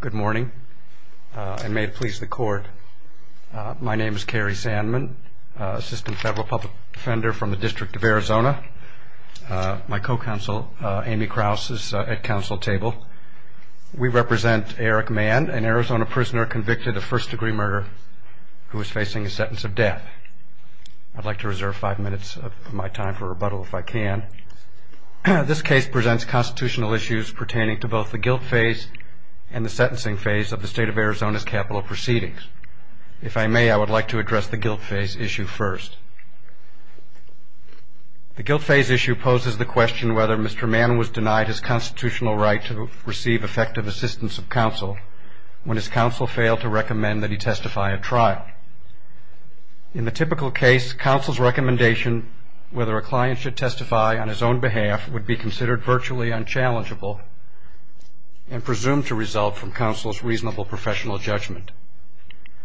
Good morning, and may it please the court, my name is Cary Sandman, Assistant Federal Public Defender from the District of Arizona. My co-counsel, Amy Krause, is at council table. We represent Eric Mann, an Arizona prisoner convicted of first degree murder who is facing a sentence of death. I'd like to reserve five minutes of my time for rebuttal if I can. This case presents constitutional issues pertaining to both the guilt phase and the sentencing phase of the state of Arizona's capital proceedings. If I may, I would like to address the guilt phase issue first. The guilt phase issue poses the question whether Mr. Mann was denied his constitutional right to receive effective assistance of counsel when his counsel failed to recommend that he testify at trial. In the typical case, counsel's recommendation, whether a client should testify on his own behalf, would be considered virtually unchallengeable and presumed to result from counsel's reasonable professional judgment.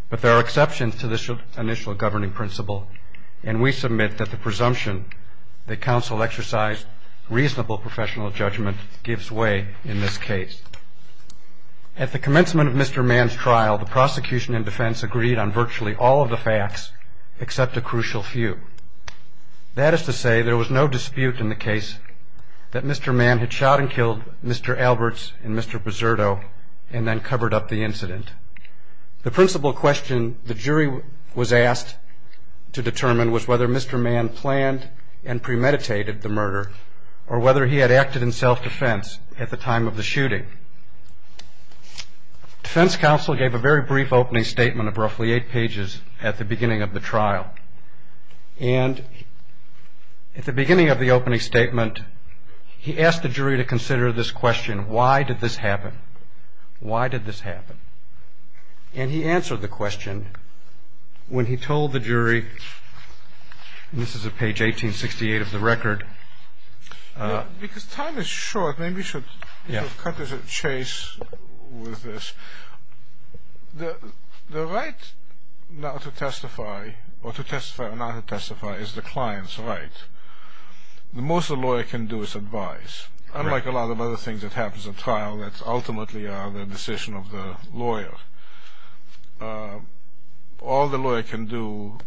But there are exceptions to this initial governing principle, and we submit that the presumption that counsel exercise reasonable professional judgment gives way in this case. At the commencement of Mr. Mann's trial, the prosecution and defense agreed on virtually all of the facts except a crucial few. That is to say, there was no dispute in the case that Mr. Mann had shot and killed Mr. Alberts and Mr. Buserto and then covered up the incident. The principal question the jury was asked to determine was whether Mr. Mann planned and premeditated the murder or whether he had acted in self-defense at the time of the shooting. Defense counsel gave a very brief opening statement of roughly eight pages at the beginning of the trial. And at the beginning of the opening statement, he asked the jury to consider this question, why did this happen? Why did this happen? And he answered the question when he told the jury, and this is at page 1868 of the record. Because time is short, maybe we should cut a chase with this. The right now to testify or to testify or not to testify is the client's right. The most a lawyer can do is advise. Unlike a lot of other things that happens in trial that ultimately are the decision of the lawyer, all the lawyer can do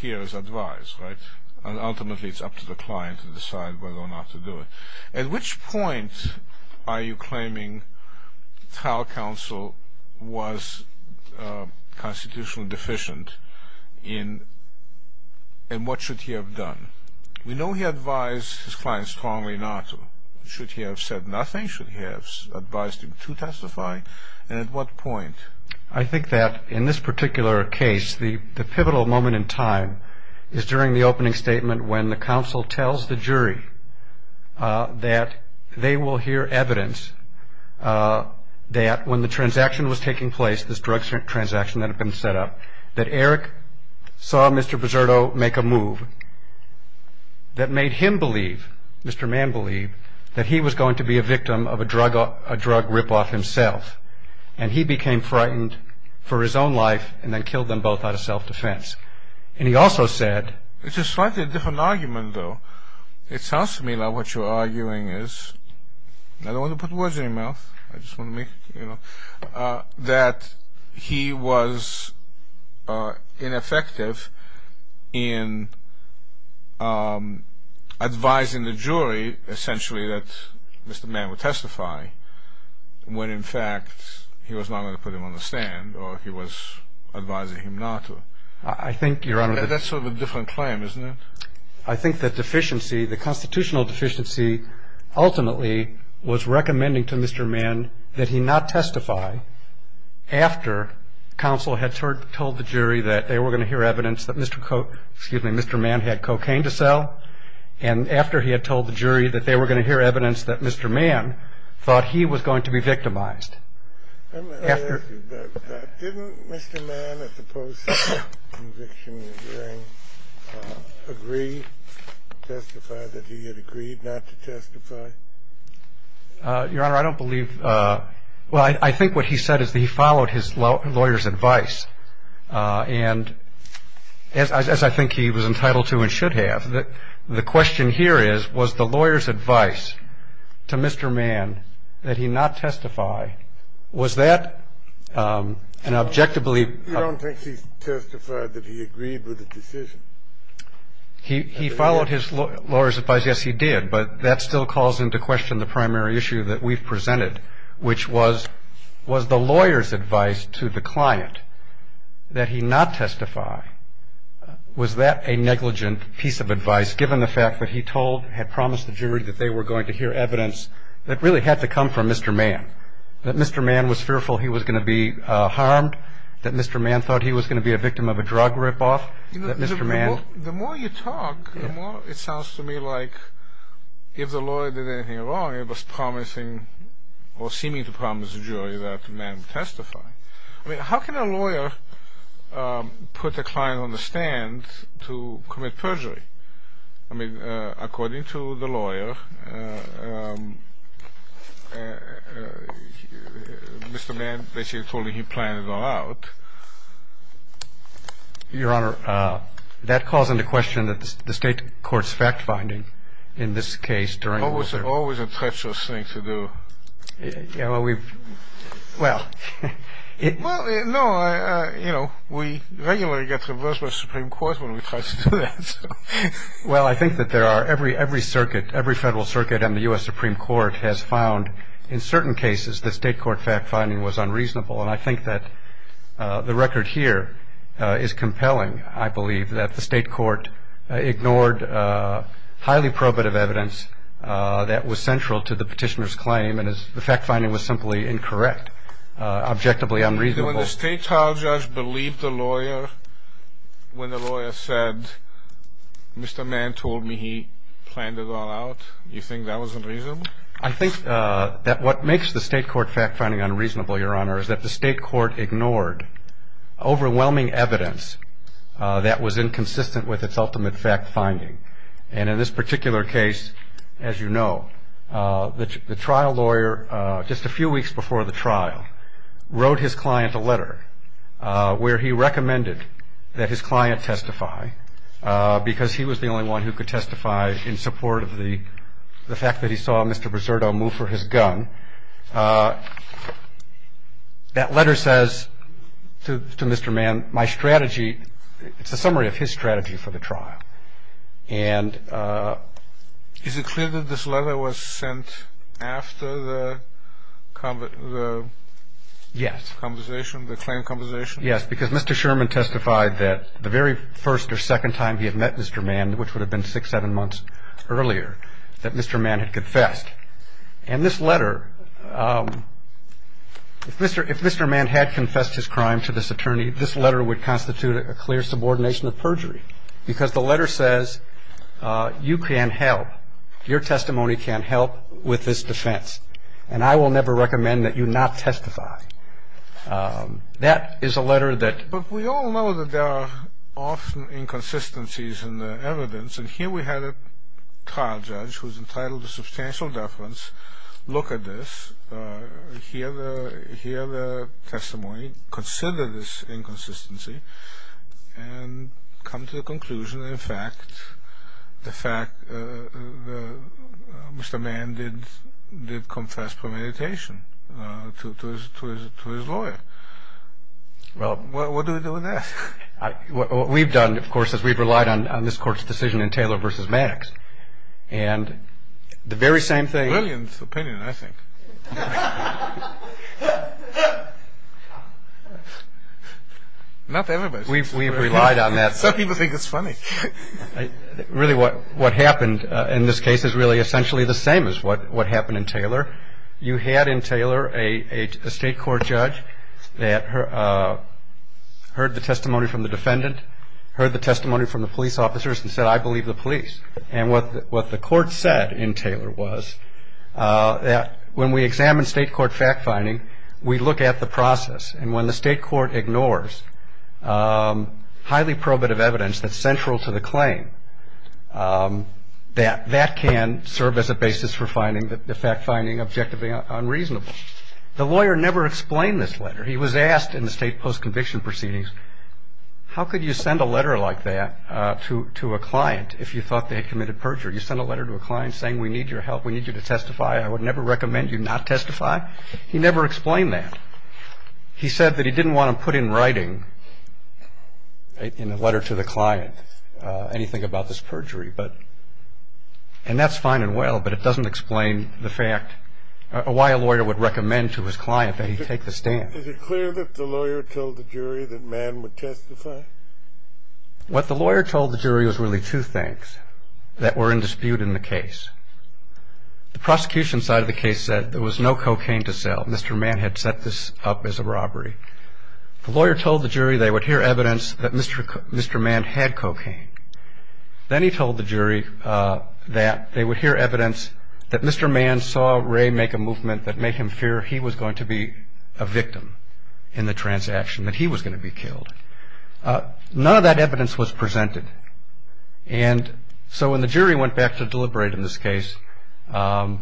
here is advise, right? And ultimately it's up to the client to decide whether or not to do it. At which point are you claiming trial counsel was constitutionally deficient in what should he have done? We know he advised his clients strongly not to. Should he have said nothing? Should he have advised them to testify? And at what point? I think that in this particular case, the pivotal moment in time is during the opening statement when the counsel tells the jury that they will hear evidence that when the transaction was taking place, this drug transaction that had been set up, that Eric saw Mr. Buserto make a move that made him believe, Mr. Mann believed, that he was going to be a victim of a drug rip-off himself. And he became frightened for his own life and then killed them both out of self-defense. And he also said... It's a slightly different argument, though. It sounds to me like what you're arguing is... I don't want to put words in your mouth. I just want to make... That he was ineffective in advising the jury, essentially, that Mr. Mann would testify, when in fact he was not going to put them on the stand or he was advising him not to. I think... That's sort of a different claim, isn't it? I think that deficiency, the constitutional deficiency, ultimately was recommending to Mr. Mann that he not testify after counsel had told the jury that they were going to hear evidence that Mr. Mann had cocaine to sell and after he had told the jury that they were going to hear evidence that Mr. Mann thought he was going to be victimized. Didn't Mr. Mann, at the post-conviction hearing, agree to testify that he had agreed not to testify? Your Honor, I don't believe... Well, I think what he said is that he followed his lawyer's advice. And as I think he was entitled to and should have, The question here is, was the lawyer's advice to Mr. Mann that he not testify, was that an objectively... Your Honor, I don't think he testified that he agreed with the decision. He followed his lawyer's advice. Yes, he did. But that still calls into question the primary issue that we've presented, which was, was the lawyer's advice to the client that he not testify, was that a negligent piece of advice given the fact that he told, had promised the jury that they were going to hear evidence that really had to come from Mr. Mann, that Mr. Mann was fearful he was going to be harmed, that Mr. Mann thought he was going to be a victim of a drug rip-off, that Mr. Mann... Or seeming to promise the jury that Mr. Mann testified. I mean, how can a lawyer put the client on the stand to commit perjury? I mean, according to the lawyer, Mr. Mann basically told him he planned it all out. Your Honor, that calls into question the state court's fact-finding in this case during... Well, it's always a treacherous thing to do. Yeah, well, we've, well... Well, no, I, you know, we regularly get divorced by the Supreme Court when we try to do that. Well, I think that there are, every circuit, every federal circuit and the U.S. Supreme Court has found, in certain cases, the state court fact-finding was unreasonable, and I think that the record here is compelling, I believe, that the state court ignored highly probative evidence that was central to the petitioner's claim, and the fact-finding was simply incorrect, objectively unreasonable. When the state trial judge believed the lawyer when the lawyer said, Mr. Mann told me he planned it all out, do you think that was unreasonable? I think that what makes the state court fact-finding unreasonable, Your Honor, is that the state court ignored overwhelming evidence that was inconsistent with its ultimate fact-finding. And in this particular case, as you know, the trial lawyer, just a few weeks before the trial, wrote his client a letter where he recommended that his client testify, because he was the only one who could testify in support of the fact that he saw Mr. Briseurdo move for his gun. That letter says to Mr. Mann, my strategy, it's a summary of his strategy for the trial. And is it clear that this letter was sent after the conversation, the claim conversation? Yes, because Mr. Sherman testified that the very first or second time he had met Mr. Mann, which would have been six, seven months earlier, that Mr. Mann had confessed. And this letter, if Mr. Mann had confessed his crime to this attorney, this letter would constitute a clear subordination of perjury, because the letter says you can help, your testimony can help with this defense, and I will never recommend that you not testify. That is a letter that... But we all know that there are often inconsistencies in the evidence, and here we had a trial judge who was entitled to substantial deference look at this, hear the testimony, consider this inconsistency, and come to the conclusion that, in fact, the fact that Mr. Mann did confess for meditation to his lawyer. What do we do with that? What we've done, of course, is we've relied on this court's decision in Taylor v. Maddox, and the very same thing... Brilliant opinion, I think. Not everybody. We've relied on that. Some people think it's funny. Really, what happened in this case is really essentially the same as what happened in Taylor. You had in Taylor a state court judge that heard the testimony from the defendant, heard the testimony from the police officers, and said, I believe the police. And what the court said in Taylor was that when we examine state court fact-finding, we look at the process, and when the state court ignores highly probative evidence that's central to the claim, that that can serve as a basis for finding the fact-finding objectively unreasonable. The lawyer never explained this letter. He was asked in the state post-conviction proceedings, how could you send a letter like that to a client if you thought they committed perjury? You sent a letter to a client saying we need your help, we need you to testify, I would never recommend you not testify. He never explained that. He said that he didn't want to put in writing in the letter to the client anything about this perjury. And that's fine and well, but it doesn't explain the fact or why a lawyer would recommend to his client that he take the stand. Is it clear that the lawyer told the jury that Mann would testify? What the lawyer told the jury was really two things that were in dispute in the case. The prosecution side of the case said there was no cocaine to sell. Mr. Mann had set this up as a robbery. The lawyer told the jury they would hear evidence that Mr. Mann had cocaine. Then he told the jury that they would hear evidence that Mr. Mann saw Ray make a movement that made him fear he was going to be a victim in the transaction, that he was going to be killed. None of that evidence was presented. And so when the jury went back to deliberate in this case, and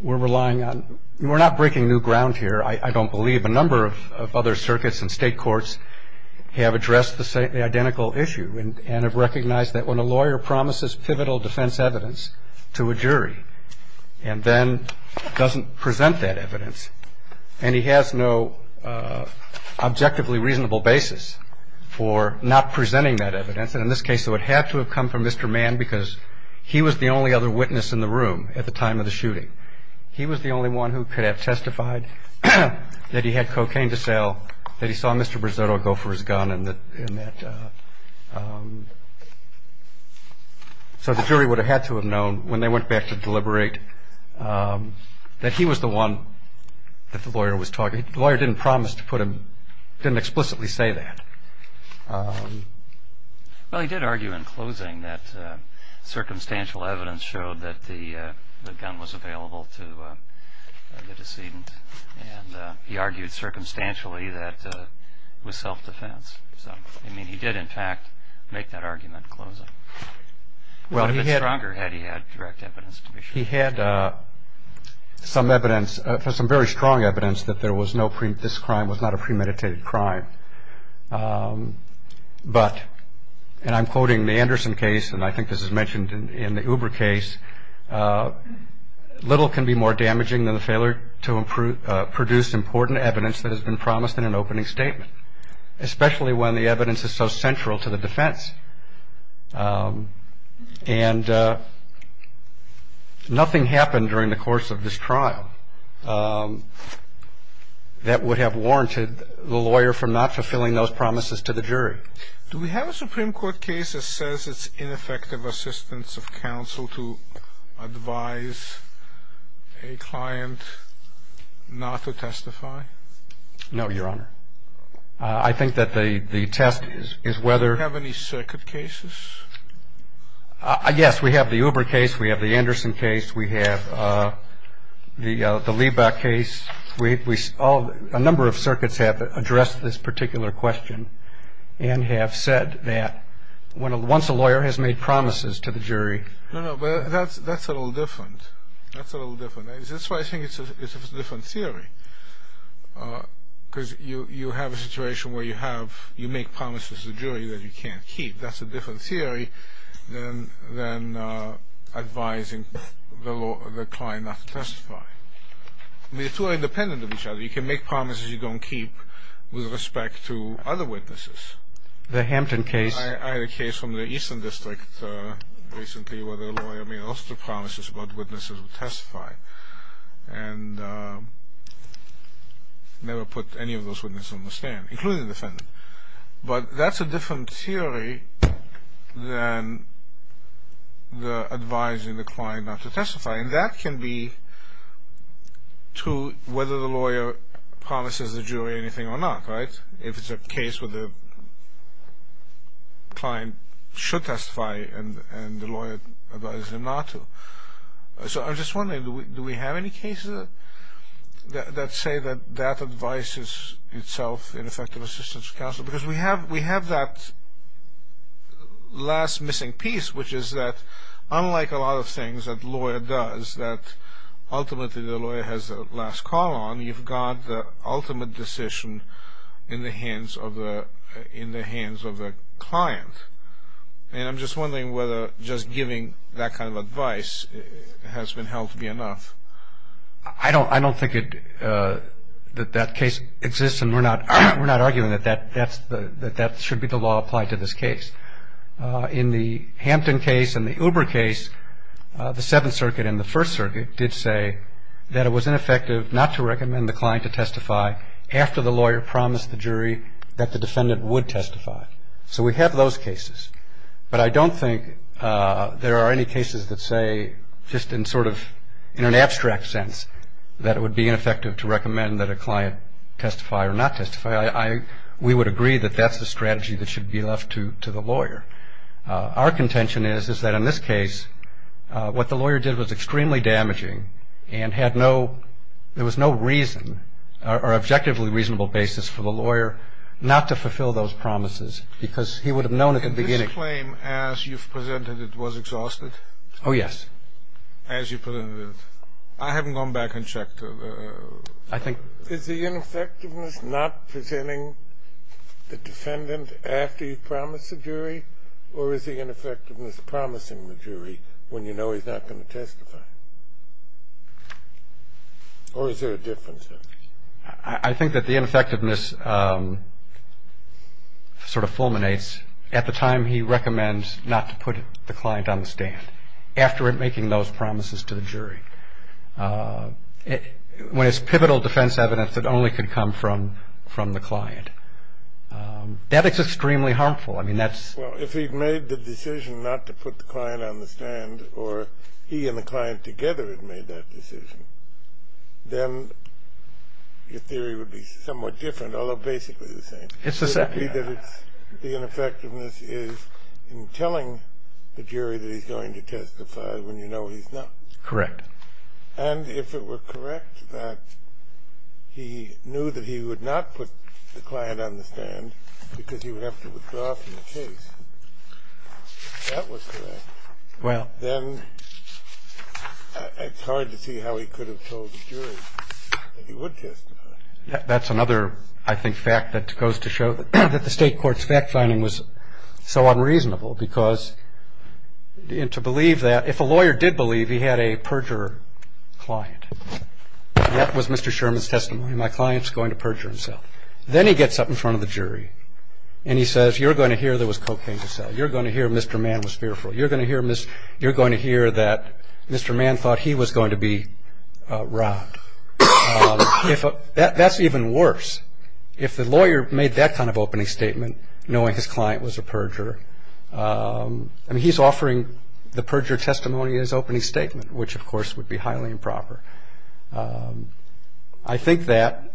we're relying on, we're not breaking new ground here, I don't believe a number of other circuits and state courts have addressed the identical issue and have recognized that when a lawyer promises pivotal defense evidence to a jury and then doesn't present that evidence and he has no objectively reasonable basis for not presenting that evidence, in this case it would have to have come from Mr. Mann because he was the only other witness in the room at the time of the shooting. He was the only one who could have testified that he had cocaine to sell, that he saw Mr. Brisetto go for his gun. So the jury would have had to have known when they went back to deliberate that he was the one that the lawyer was talking to. The lawyer didn't promise to put him, didn't explicitly say that. Well, he did argue in closing that circumstantial evidence showed that the gun was available to the decedent. He argued circumstantially that it was self-defense. He did, in fact, make that argument in closing. He had some very strong evidence that this crime was not a premeditated crime. But, and I'm quoting the Anderson case, and I think this is mentioned in the Uber case, little can be more damaging than the failure to produce important evidence that has been promised in an opening statement, especially when the evidence is so central to the defense. And nothing happened during the course of this trial that would have warranted the lawyer from not fulfilling those promises to the jury. Do we have a Supreme Court case that says it's ineffective assistance of counsel to advise a client not to testify? No, Your Honor. I think that the test is whether- Do we have any circuit cases? Yes, we have the Uber case, we have the Anderson case, we have the Liebach case. A number of circuits have addressed this particular question and have said that once a lawyer has made promises to the jury- No, no, but that's a little different. That's a little different. That's why I think it's a different theory, because you have a situation where you make promises to the jury that you can't keep. That's a different theory than advising the client not to testify. The two are independent of each other. You can make promises you don't keep with respect to other witnesses. The Hampton case- I had a case from the Eastern District recently where the lawyer made lots of promises about witnesses to testify and never put any of those witnesses on the stand, including the defendant. But that's a different theory than advising the client not to testify. And that can be true whether the lawyer promises the jury anything or not, right? If it's a case where the client should testify and the lawyer advises them not to. So I'm just wondering, do we have any cases that say that that advises itself in effective assistance counsel? Because we have that last missing piece, which is that unlike a lot of things that a lawyer does that ultimately the lawyer has the last call on, you've got the ultimate decision in the hands of the client. And I'm just wondering whether just giving that kind of advice has been held to be enough. I don't think that that case exists, and we're not arguing that that should be the law applied to this case. In the Hampton case and the Uber case, the Seventh Circuit and the First Circuit did say that it was ineffective not to recommend the client to testify after the lawyer promised the jury that the defendant would testify. So we have those cases. But I don't think there are any cases that say just in sort of an abstract sense that it would be ineffective to recommend that a client testify or not testify. We would agree that that's the strategy that should be left to the lawyer. Our contention is that in this case what the lawyer did was extremely damaging and there was no reason or objectively reasonable basis for the lawyer not to fulfill those promises because he would have known at the beginning... Did you claim as you've presented it was exhausted? Oh, yes. As you presented it. I haven't gone back and checked. I think... Is the ineffectiveness not presenting the defendant after he's promised the jury or is the ineffectiveness promising the jury when you know he's not going to testify? Or is there a difference there? I think that the ineffectiveness sort of fulminates at the time he recommends not to put the client on the stand after making those promises to the jury. When it's pivotal defense evidence that only could come from the client. That is extremely harmful. I mean, that's... Well, if he'd made the decision not to put the client on the stand or he and the client together had made that decision, then your theory would be somewhat different, although basically the same. Yes, exactly. The ineffectiveness is in telling the jury that he's going to testify when you know he's not. Correct. And if it were correct that he knew that he would not put the client on the stand because he would have to withdraw from the case, if that was correct, then it's hard to see how he could have told the jury that he would testify. That's another, I think, fact that goes to show that the state court's fact-finding was so unreasonable because to believe that, if a lawyer did believe he had a perjurer client, that was Mr. Sherman's testimony, my client's going to perjure himself. Then he gets up in front of the jury and he says, you're going to hear there was cocaine to sell, you're going to hear Mr. Mann was fearful, you're going to hear that Mr. Mann thought he was going to be robbed. That's even worse. If the lawyer made that kind of opening statement, knowing his client was a perjurer, I mean, he's offering the perjurer testimony in his opening statement, which, of course, would be highly improper. I think that...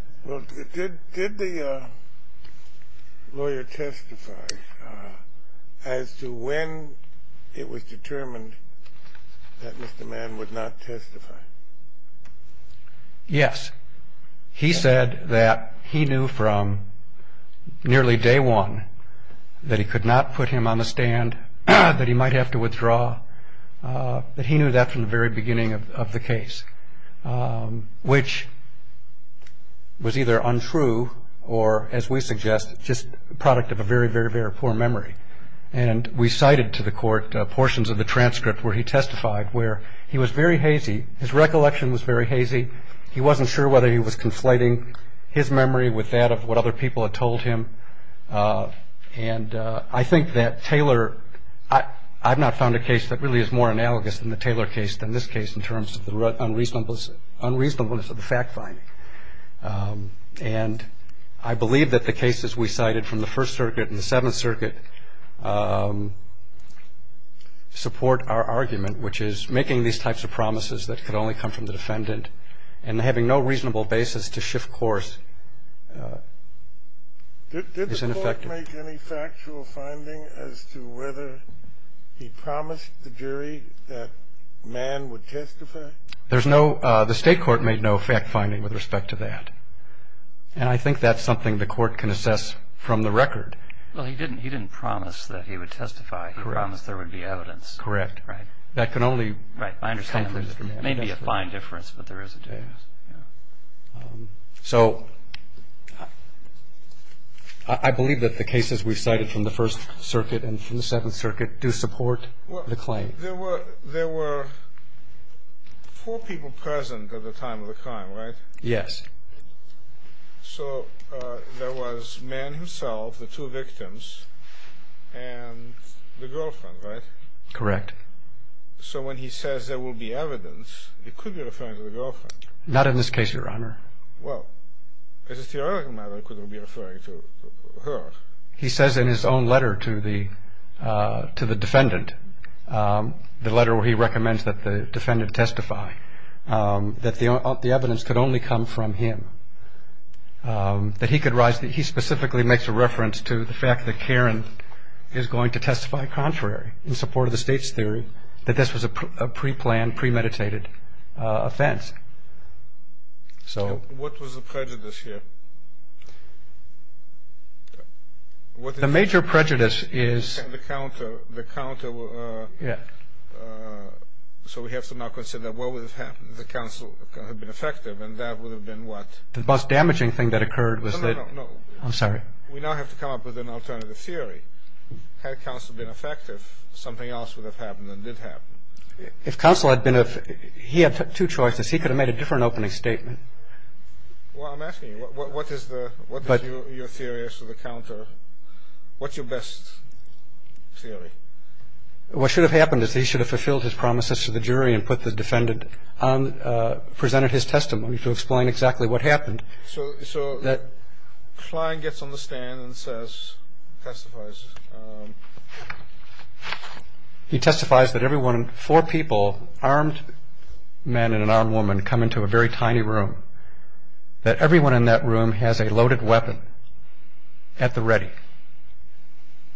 Did the lawyer testify as to when it was determined that Mr. Mann would not testify? Yes. He said that he knew from nearly day one that he could not put him on the stand, that he might have to withdraw, that he knew that from the very beginning of the case, which was either untrue or, as we suggest, just the product of a very, very, very poor memory. We cited to the court portions of the transcript where he testified where he was very hazy. His recollection was very hazy. He wasn't sure whether he was conflating his memory with that of what other people had told him. And I think that Taylor... I've not found a case that really is more analogous in the Taylor case than this case in terms of the unreasonableness of the fact-finding. And I believe that the cases we cited from the First Circuit and the Seventh Circuit support our argument, which is making these types of promises that could only come from the defendant and having no reasonable basis to shift course is ineffective. Did the court make any factual finding as to whether he promised the jury that Mann would testify? There's no... The state court made no fact-finding with respect to that. And I think that's something the court can assess from the record. Well, he didn't promise that he would testify. He promised there would be evidence. Correct. Right. That can only... Right, I understand. It may be a fine difference, but there is a difference. So I believe that the cases we cited from the First Circuit and from the Seventh Circuit do support the claim. There were four people present at the time of the crime, right? Yes. So there was Mann himself, the two victims, and the girlfriend, right? Correct. So when he says there will be evidence, it could be referring to the girlfriend. Not in this case, Your Honor. Well, because his theoretical model could be referring to her. He says in his own letter to the defendant, the letter where he recommends that the defendant testify, that the evidence could only come from him, that he could rise... I think he specifically makes a reference to the fact that Karen is going to testify contrary, in support of the state's theory, that this was a pre-planned, premeditated offense. What was the prejudice here? The major prejudice is... The counter... So we have to now consider what would have happened if the counsel had been effective, and that would have been what? The most damaging thing that occurred was that... No, no, no. I'm sorry. We now have to come up with an alternative theory. Had counsel been effective, something else would have happened and did happen. If counsel had been... He had two choices. He could have made a different opening statement. Well, I'm asking you, what is your theory as to the counter? What's your best theory? What should have happened is he should have fulfilled his promises to the jury and presented his testimony to explain exactly what happened. So Klein gets on the stand and testifies. He testifies that four people, armed men and an armed woman, come into a very tiny room, that everyone in that room has a loaded weapon at the ready,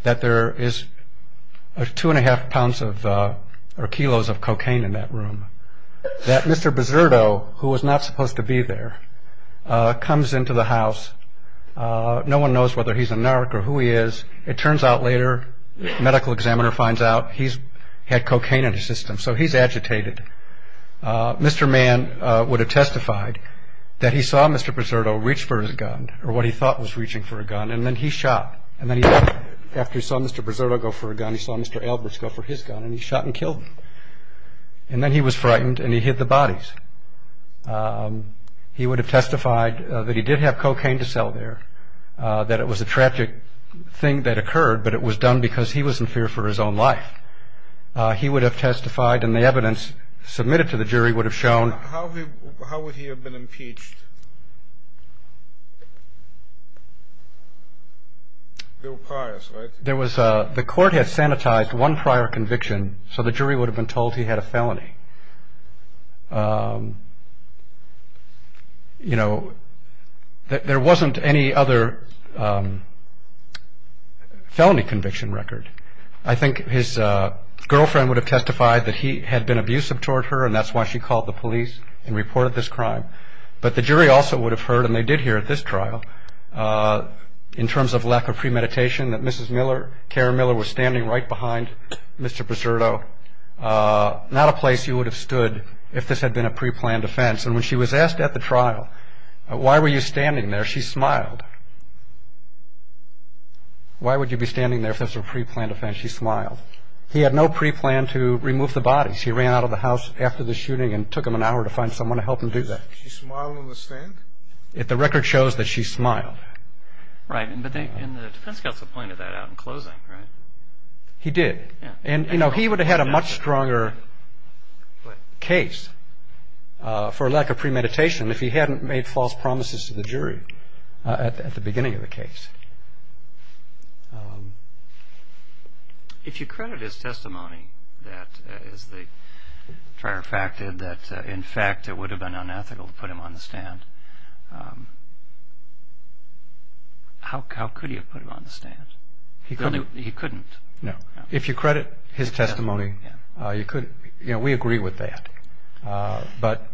that there is two and a half pounds or kilos of cocaine in that room, that Mr. Biserto, who was not supposed to be there, comes into the house. No one knows whether he's a narc or who he is. It turns out later, the medical examiner finds out he's had cocaine in his system, so he's agitated. Mr. Mann would have testified that he saw Mr. Biserto reach for his gun, or what he thought was reaching for a gun, and then he shot. After he saw Mr. Biserto go for a gun, he saw Mr. Albers go for his gun, and he shot and killed him. And then he was frightened and he hid the bodies. He would have testified that he did have cocaine to sell there, that it was a tragic thing that occurred, but it was done because he was in fear for his own life. He would have testified, and the evidence submitted to the jury would have shown... How would he have been impeached? The court had sanitized one prior conviction, so the jury would have been told he had a felony. There wasn't any other felony conviction record. I think his girlfriend would have testified that he had been abusive toward her, and that's why she called the police and reported this crime. But the jury also would have heard, and they did hear at this trial, in terms of lack of premeditation, that Mrs. Miller, Carrie Miller, was standing right behind Mr. Biserto. Not a place you would have stood if this had been a preplanned offense. And when she was asked at the trial, why were you standing there, she smiled. Why would you be standing there if this was a preplanned offense? She smiled. He had no preplan to remove the body. She ran out of the house after the shooting and took him an hour to find someone to help him do that. She smiled in the stand? The record shows that she smiled. Right. And the defense got the point of that out in closing, right? He did. And, you know, he would have had a much stronger case for lack of premeditation if he hadn't made false promises to the jury at the beginning of the case. If you credit his testimony, that is the fair fact that, in fact, it would have been unethical to put him on the stand, how could you have put him on the stand? He couldn't. No. If you credit his testimony, you could. You know, we agree with that.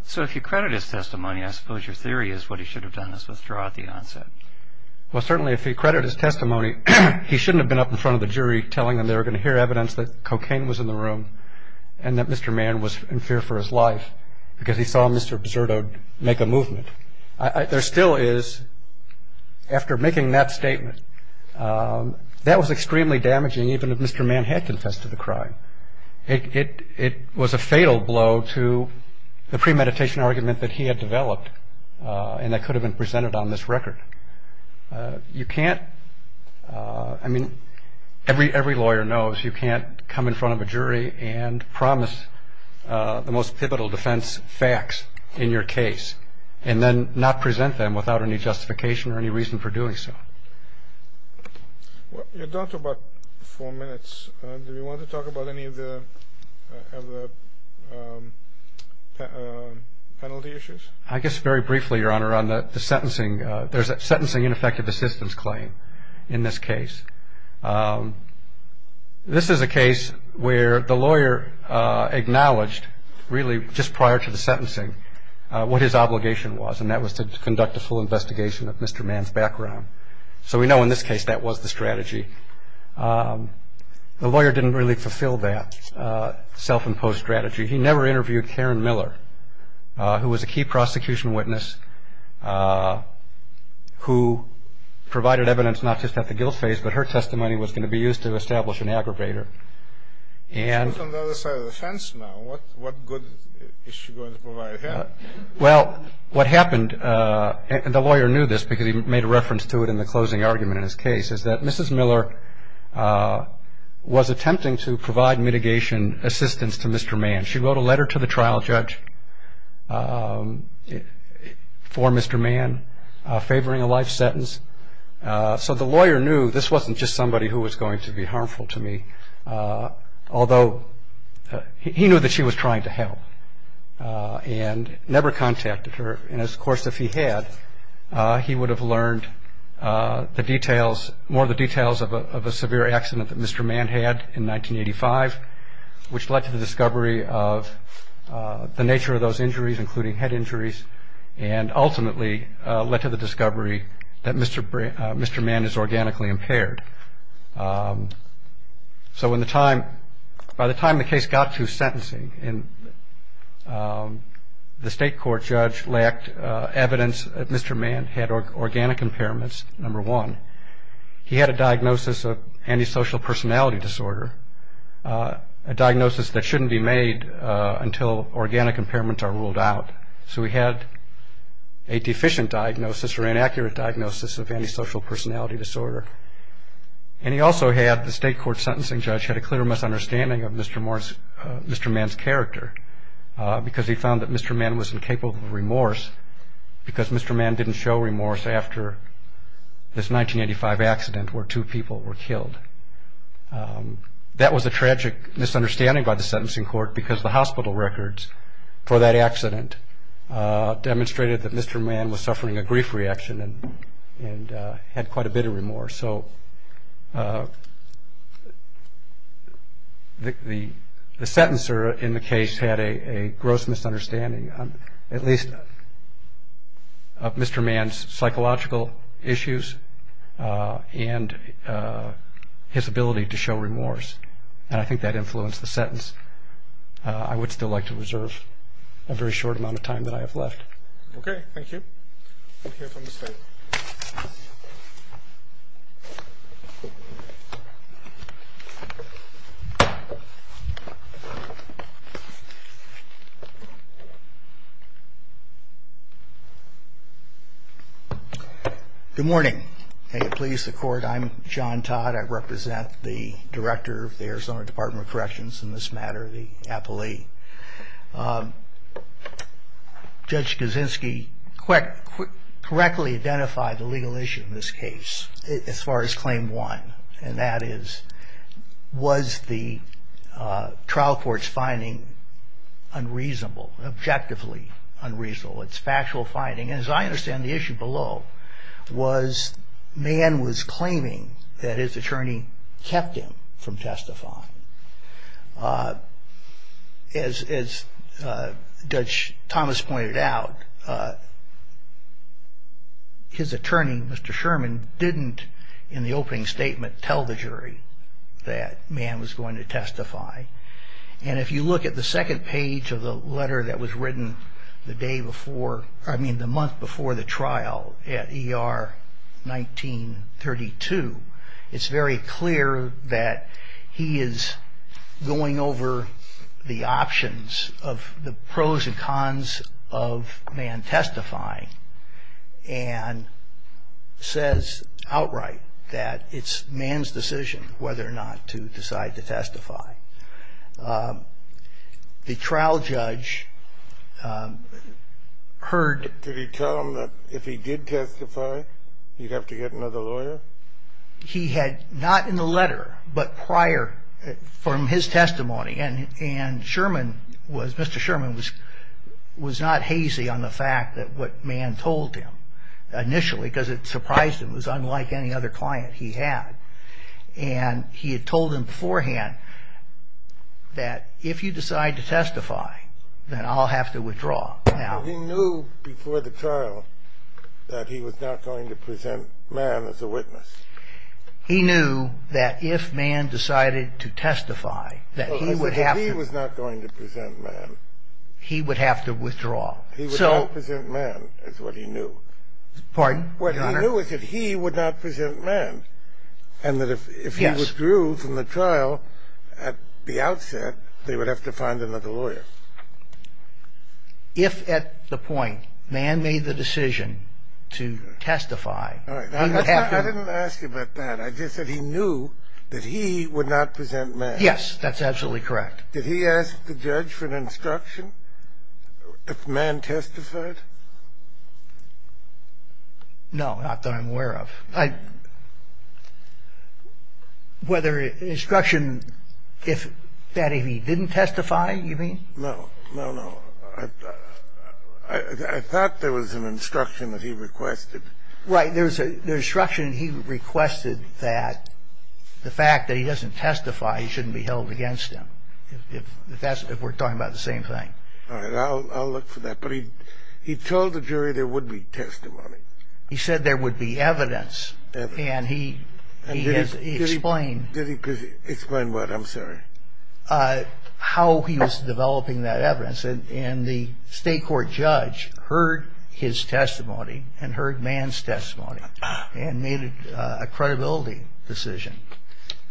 So if you credit his testimony, I suppose your theory is what he should have done was withdraw at the onset. Well, certainly if you credit his testimony, he shouldn't have been up in front of the jury telling them they were going to hear evidence that cocaine was in the room and that Mr. Mann was in fear for his life because he saw Mr. Absurdo make a movement. There still is, after making that statement, that was extremely damaging even if Mr. Mann had confessed to the crime. It was a fatal blow to the premeditation argument that he had developed and that could have been presented on this record. You can't, I mean, every lawyer knows you can't come in front of a jury and promise the most pivotal defense facts in your case and then not present them without any justification or any reason for doing so. You're down to about four minutes. Do you want to talk about any of the penalty issues? I guess very briefly, Your Honor, on the sentencing. There's a sentencing ineffective assistance claim in this case. This is a case where the lawyer acknowledged really just prior to the sentencing what his obligation was and that was to conduct a full investigation of Mr. Mann's background. So we know in this case that was the strategy. The lawyer didn't really fulfill that self-imposed strategy. He never interviewed Karen Miller, who was a key prosecution witness, who provided evidence not just at the guilt phase, but her testimony was going to be used to establish an aggravator. What good is she going to provide here? Well, what happened, and the lawyer knew this because he made a reference to it in the closing argument in his case, is that Mrs. Miller was attempting to provide mitigation assistance to Mr. Mann. She wrote a letter to the trial judge for Mr. Mann favoring a life sentence. So the lawyer knew this wasn't just somebody who was going to be harmful to me, although he knew that she was trying to help and never contacted her. And, of course, if he had, he would have learned the details, more of the details of a severe accident that Mr. Mann had in 1985, which led to the discovery of the nature of those injuries, including head injuries, and ultimately led to the discovery that Mr. Mann is organically impaired. So by the time the case got to sentencing, the state court judge lacked evidence that Mr. Mann had organic impairments, number one. He had a diagnosis of antisocial personality disorder, a diagnosis that shouldn't be made until organic impairments are ruled out. So he had a deficient diagnosis or inaccurate diagnosis of antisocial personality disorder. And he also had, the state court sentencing judge had a clear misunderstanding of Mr. Mann's character, because he found that Mr. Mann was incapable of remorse, because Mr. Mann didn't show remorse after this 1985 accident where two people were killed. That was a tragic misunderstanding by the sentencing court, because the hospital records for that accident demonstrated that Mr. Mann was suffering a grief reaction and had quite a bit of remorse. So the sentencer in the case had a gross misunderstanding, at least of Mr. Mann's psychological issues and his ability to show remorse. And I think that influenced the sentence. I would still like to reserve a very short amount of time that I have left. Okay, thank you. Good morning. May it please the court, I'm John Todd. I represent the director of the Arizona Department of Corrections in this matter, the appellee. Judge Kaczynski correctly identified the legal issue in this case, as far as Claim 1, and that is, was the trial court's finding unreasonable, objectively unreasonable? It's factual finding. And as I understand, the issue below was Mann was claiming that his attorney kept him from testifying. As Judge Thomas pointed out, his attorney, Mr. Sherman, didn't, in the opening statement, tell the jury that Mann was going to testify. And if you look at the second page of the letter that was written the day before, I mean, the month before the trial at ER 1932, it's very clear that he is going over the options of the pros and cons of Mann testifying, and says outright that it's Mann's decision whether or not to decide to testify. The trial judge heard... Did he tell him that if he did testify, he'd have to get another lawyer? He had, not in the letter, but prior, from his testimony, and Sherman was, Mr. Sherman was not hazy on the fact that what Mann told him initially, because it surprised him, was unlike any other client he had. And he had told him beforehand that if you decide to testify, then I'll have to withdraw. He knew before the trial that he was not going to present Mann as a witness. He knew that if Mann decided to testify, that he would have to... He was not going to present Mann. He would have to withdraw. He would not present Mann, is what he knew. Pardon? What he knew was that he would not present Mann, and that if he withdrew from the trial at the outset, they would have to find another lawyer. If at the point Mann made the decision to testify... I didn't ask you about that. I just said he knew that he would not present Mann. Yes, that's absolutely correct. Did he ask the judge for an instruction if Mann testified? No, not that I'm aware of. Whether an instruction that if he didn't testify, you mean? No, no, no. I thought there was an instruction that he requested. Right, there was an instruction that he requested that the fact that he doesn't testify shouldn't be held against him, if we're talking about the same thing. All right, I'll look for that. But he told the jury there would be testimony. He said there would be evidence, and he explained... Explained what? I'm sorry. How he was developing that evidence, and the state court judge heard his testimony and heard Mann's testimony and made a credibility decision,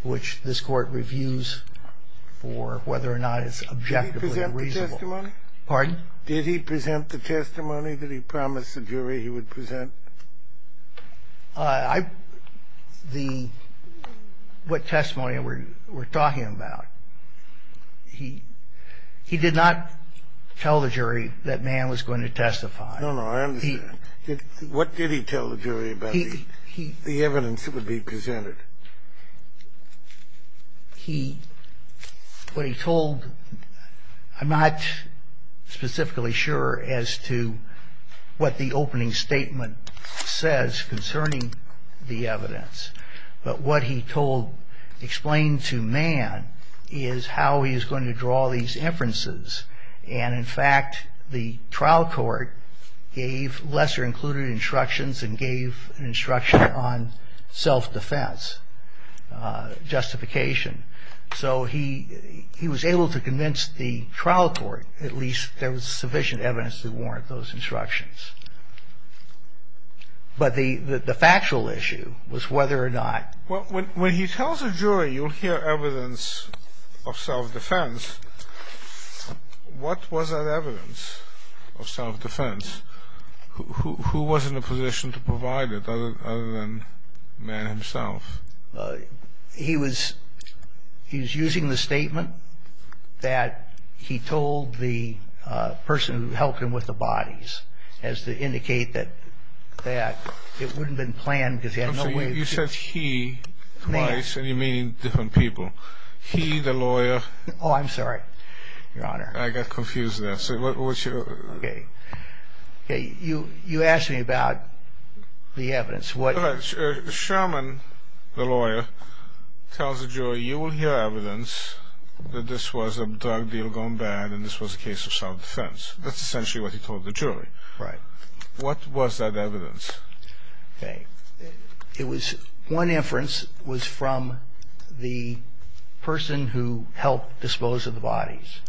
which this court reviews for whether or not it's objectively reasonable. Did he present the testimony? Pardon? Did he present the testimony that he promised the jury he would present? What testimony were you talking about? He did not tell the jury that Mann was going to testify. No, no, I understand. What did he tell the jury about the evidence that would be presented? He, what he told, I'm not specifically sure as to what the opening statement says concerning the evidence, but what he told, explained to Mann is how he was going to draw these inferences. And, in fact, the trial court gave lesser-included instructions and gave instruction on self-defense justification. So he was able to convince the trial court at least there was sufficient evidence to warrant those instructions. But the factual issue was whether or not... If you tell the jury you'll hear evidence of self-defense, what was that evidence of self-defense? Who was in a position to provide it other than Mann himself? He was using the statement that he told the person who helped him with the bodies as to indicate that it wouldn't have been planned because he had no way... You said he twice, and you mean different people. He, the lawyer... Oh, I'm sorry, Your Honor. I got confused there. You asked me about the evidence. Sherman, the lawyer, tells the jury you will hear evidence that this was a drug deal gone bad and this was a case of self-defense. That's essentially what he told the jury. Right. What was that evidence? Okay. It was... One inference was from the person who helped dispose of the bodies.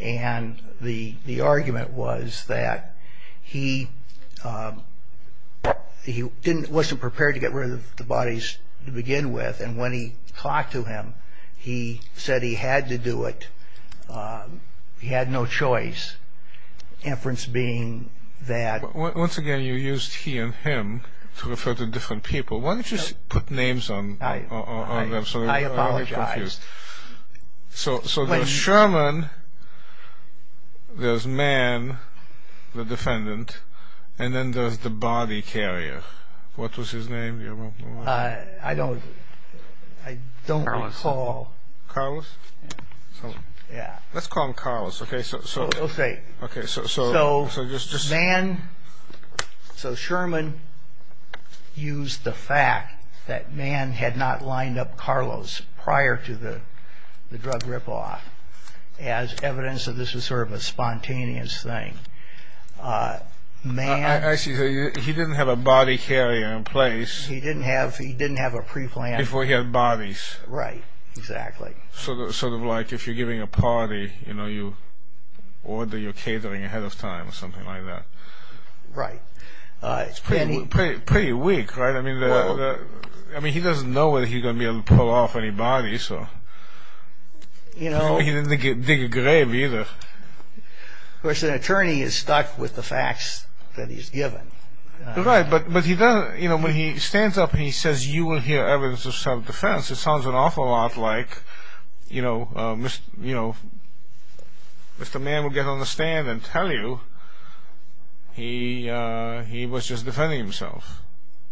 And the argument was that he wasn't prepared to get rid of the bodies to begin with, and when he talked to him, he said he had to do it. He had no choice. Inference being that... Once again, you used he and him to refer to different people. Why don't you just put names on them so that... I apologize. So there's Sherman, there's Mann, the defendant, and then there's the body carrier. What was his name? I don't recall. Carlos? Yeah. Let's call him Carlos, okay? Okay. Okay, so... So Mann... So Sherman used the fact that Mann had not lined up Carlos prior to the drug rip-off as evidence of this was sort of a spontaneous thing. Mann... Actually, he didn't have a body carrier in place. He didn't have a pre-planned... Before he had bodies. Right, exactly. Sort of like if you're giving a party, you know, you order your catering ahead of time or something like that. Right. It's pretty weak, right? I mean, he doesn't know whether he's going to be able to pull off any bodies, so... He didn't dig a grave, either. Of course, an attorney is stuck with the facts that he's given. Right, but he doesn't... You know, when he stands up and he says, you will hear evidence of self-defense, it sounds an awful lot like, you know, Mr. Mann will get on the stand and tell you he was just defending himself.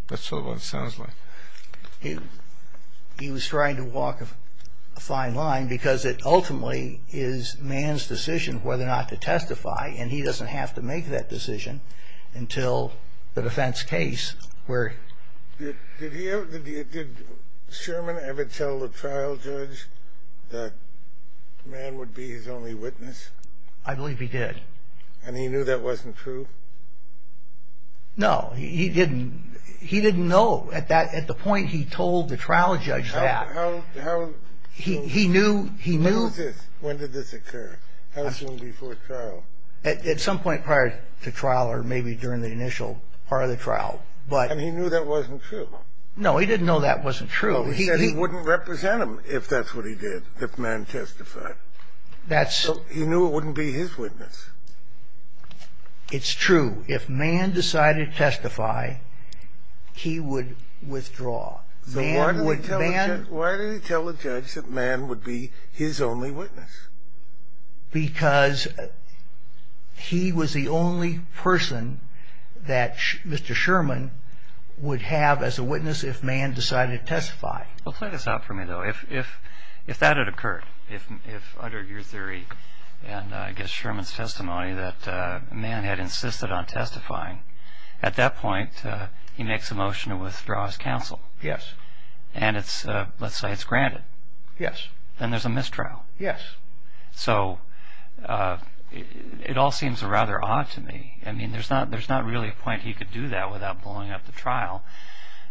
That's sort of what it sounds like. He was trying to walk a fine line because it ultimately is Mann's decision whether or not to testify, and he doesn't have to make that decision until the defense case where... Did Sherman ever tell the trial judge that Mann would be his only witness? I believe he did. And he knew that wasn't true? No, he didn't. He didn't know at the point he told the trial judge that. How... He knew... When did this occur? How soon before trial? At some point prior to trial or maybe during the initial part of the trial, but... And he knew that wasn't true? No, he didn't know that wasn't true. He wouldn't represent him if that's what he did, if Mann testified. That's... He knew it wouldn't be his witness. It's true. If Mann decided to testify, he would withdraw. Mann would... Why did he tell the judge that Mann would be his only witness? Because he was the only person that Mr. Sherman would have as a witness if Mann decided to testify. It's not for me, though. If that had occurred, if under your theory and I guess Sherman's testimony that Mann had insisted on testifying, at that point he makes a motion to withdraw his counsel. Yes. And it's... Let's say it's granted. Yes. Then there's a mistrial. Yes. So it all seems rather odd to me. I mean, there's not really a point he could do that without blowing up the trial.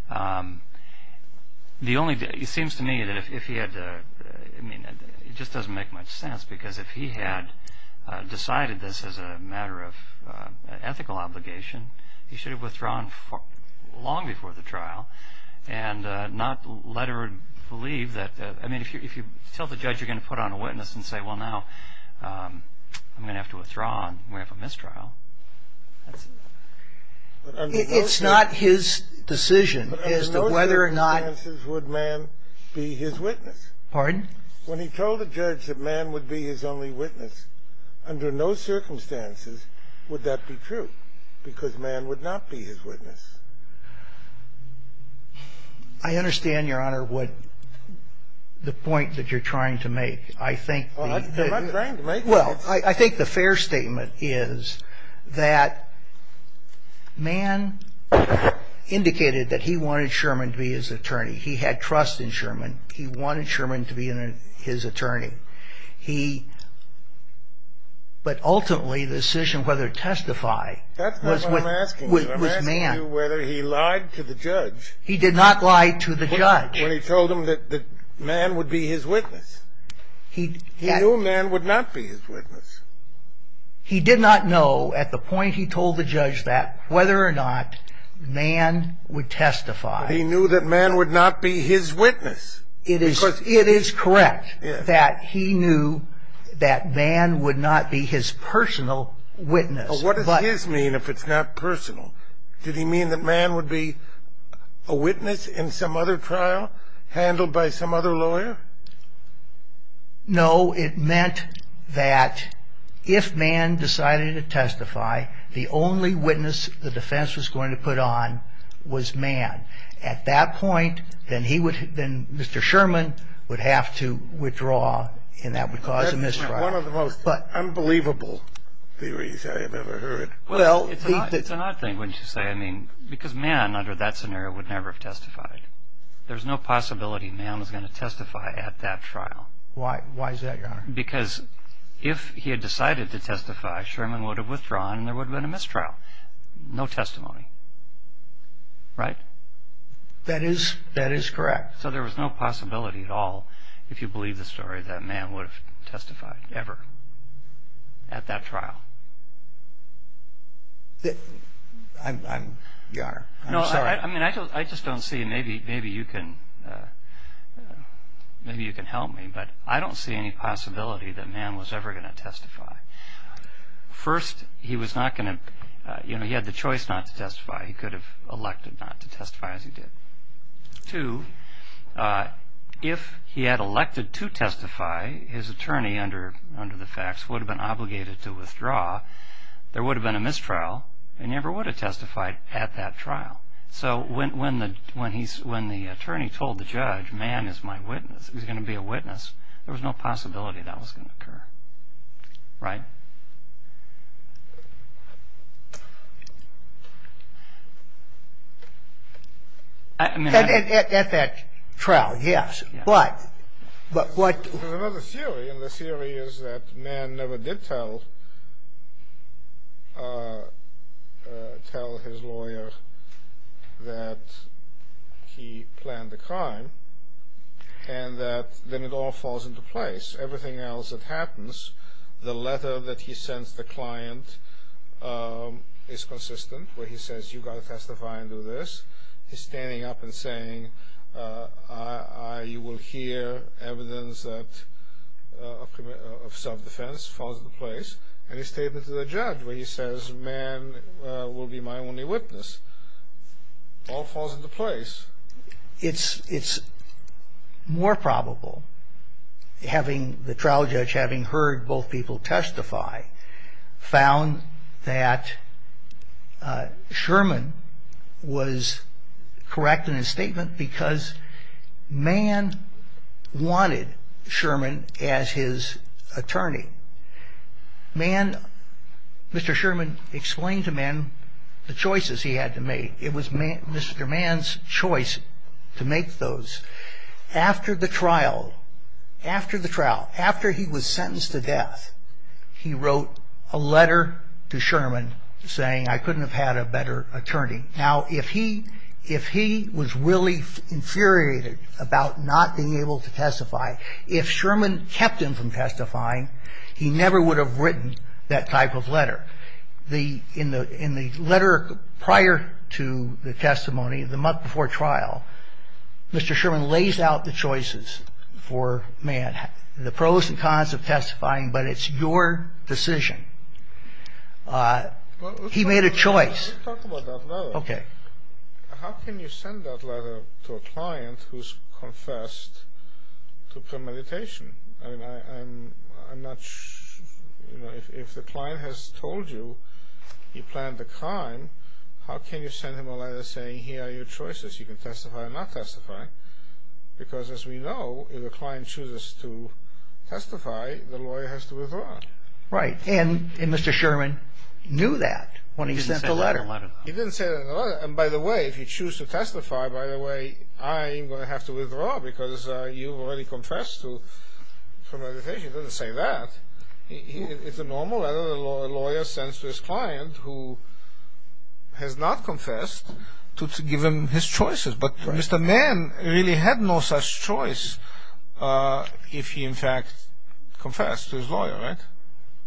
The only... It seems to me that if he had... I mean, it just doesn't make much sense because if he had decided this as a matter of ethical obligation, he should have withdrawn long before the trial and not let her believe that... I mean, if you tell the judge you're going to put on a witness and say, well, now I'm going to have to withdraw and we have a mistrial. It's not his decision as to whether or not... Under no circumstances would Mann be his witness. Pardon? When he told the judge that Mann would be his only witness, under no circumstances would that be true because Mann would not be his witness. I understand, Your Honor, what the point that you're trying to make. I think... I'm not trying to make... Well, I think the fair statement is that Mann indicated that he wanted Sherman to be his attorney. He had trust in Sherman. He wanted Sherman to be his attorney. He... But ultimately the decision whether to testify was Mann. That's not what I'm asking you. I'm asking you whether he lied to the judge. He did not lie to the judge. When he told him that Mann would be his witness. He knew Mann would not be his witness. He did not know at the point he told the judge that whether or not Mann would testify. He knew that Mann would not be his witness. It is correct that he knew that Mann would not be his personal witness. What does his mean if it's not personal? Did he mean that Mann would be a witness in some other trial handled by some other lawyer? No, it meant that if Mann decided to testify, the only witness the defense was going to put on was Mann. At that point, then he would... Then Mr. Sherman would have to withdraw and that would cause a misfire. That's one of the most unbelievable theories I have ever heard. Well, it's an odd thing, wouldn't you say? I mean, because Mann under that scenario would never have testified. There's no possibility Mann was going to testify at that trial. Why is that, Your Honor? Because if he had decided to testify, Sherman would have withdrawn and there would have been a mistrial. No testimony. Right? That is correct. So there was no possibility at all, if you believe the story, that Mann would have testified ever at that trial. Your Honor, I'm sorry. No, I mean, I just don't see... Maybe you can help me, but I don't see any possibility that Mann was ever going to testify. First, he was not going to... He had the choice not to testify. He could have elected not to testify as he did. Two, if he had elected to testify, his attorney under the facts would have been obligated to withdraw. There would have been a mistrial. They never would have testified at that trial. So when the attorney told the judge, Mann is my witness, he's going to be a witness, there was no possibility that was going to occur. Right? At that trial, yes. But what... Another theory, and the theory is that Mann never did tell his lawyer that he planned the crime, and that then it all falls into place. Everything else that happens, the letter that he sends the client is consistent, where he says, you've got to testify and do this. He's standing up and saying, I will hear evidence of self-defense falls into place. And his statement to the judge where he says, Mann will be my only witness. All falls into place. It's more probable, having the trial judge having heard both people testify, found that Sherman was correct in his statement because Mann wanted Sherman as his attorney. Mann, Mr. Sherman explained to Mann the choices he had to make. It was Mr. Mann's choice to make those. After the trial, after the trial, after he was sentenced to death, he wrote a letter to Sherman saying, I couldn't have had a better attorney. Now, if he was really infuriated about not being able to testify, if Sherman kept him from testifying, he never would have written that type of letter. In the letter prior to the testimony, the month before trial, Mr. Sherman lays out the choices for Mann, the pros and cons of testifying, but it's your decision. He made a choice. Let's talk about that letter. Okay. How can you send that letter to a client who's confessed to premeditation? I'm not sure. If the client has told you he planned a crime, how can you send him a letter saying, here are your choices, you can testify or not testify? Because as we know, if a client chooses to testify, the lawyer has to withdraw. Right, and Mr. Sherman knew that when he sent the letter. He didn't say that in the letter. And by the way, if you choose to testify, by the way, I'm going to have to withdraw because you already confessed to premeditation. He doesn't say that. It's a normal letter a lawyer sends to his client who has not confessed to give him his choices. But Mr. Mann really had no such choice if he, in fact, confessed to his lawyer, right?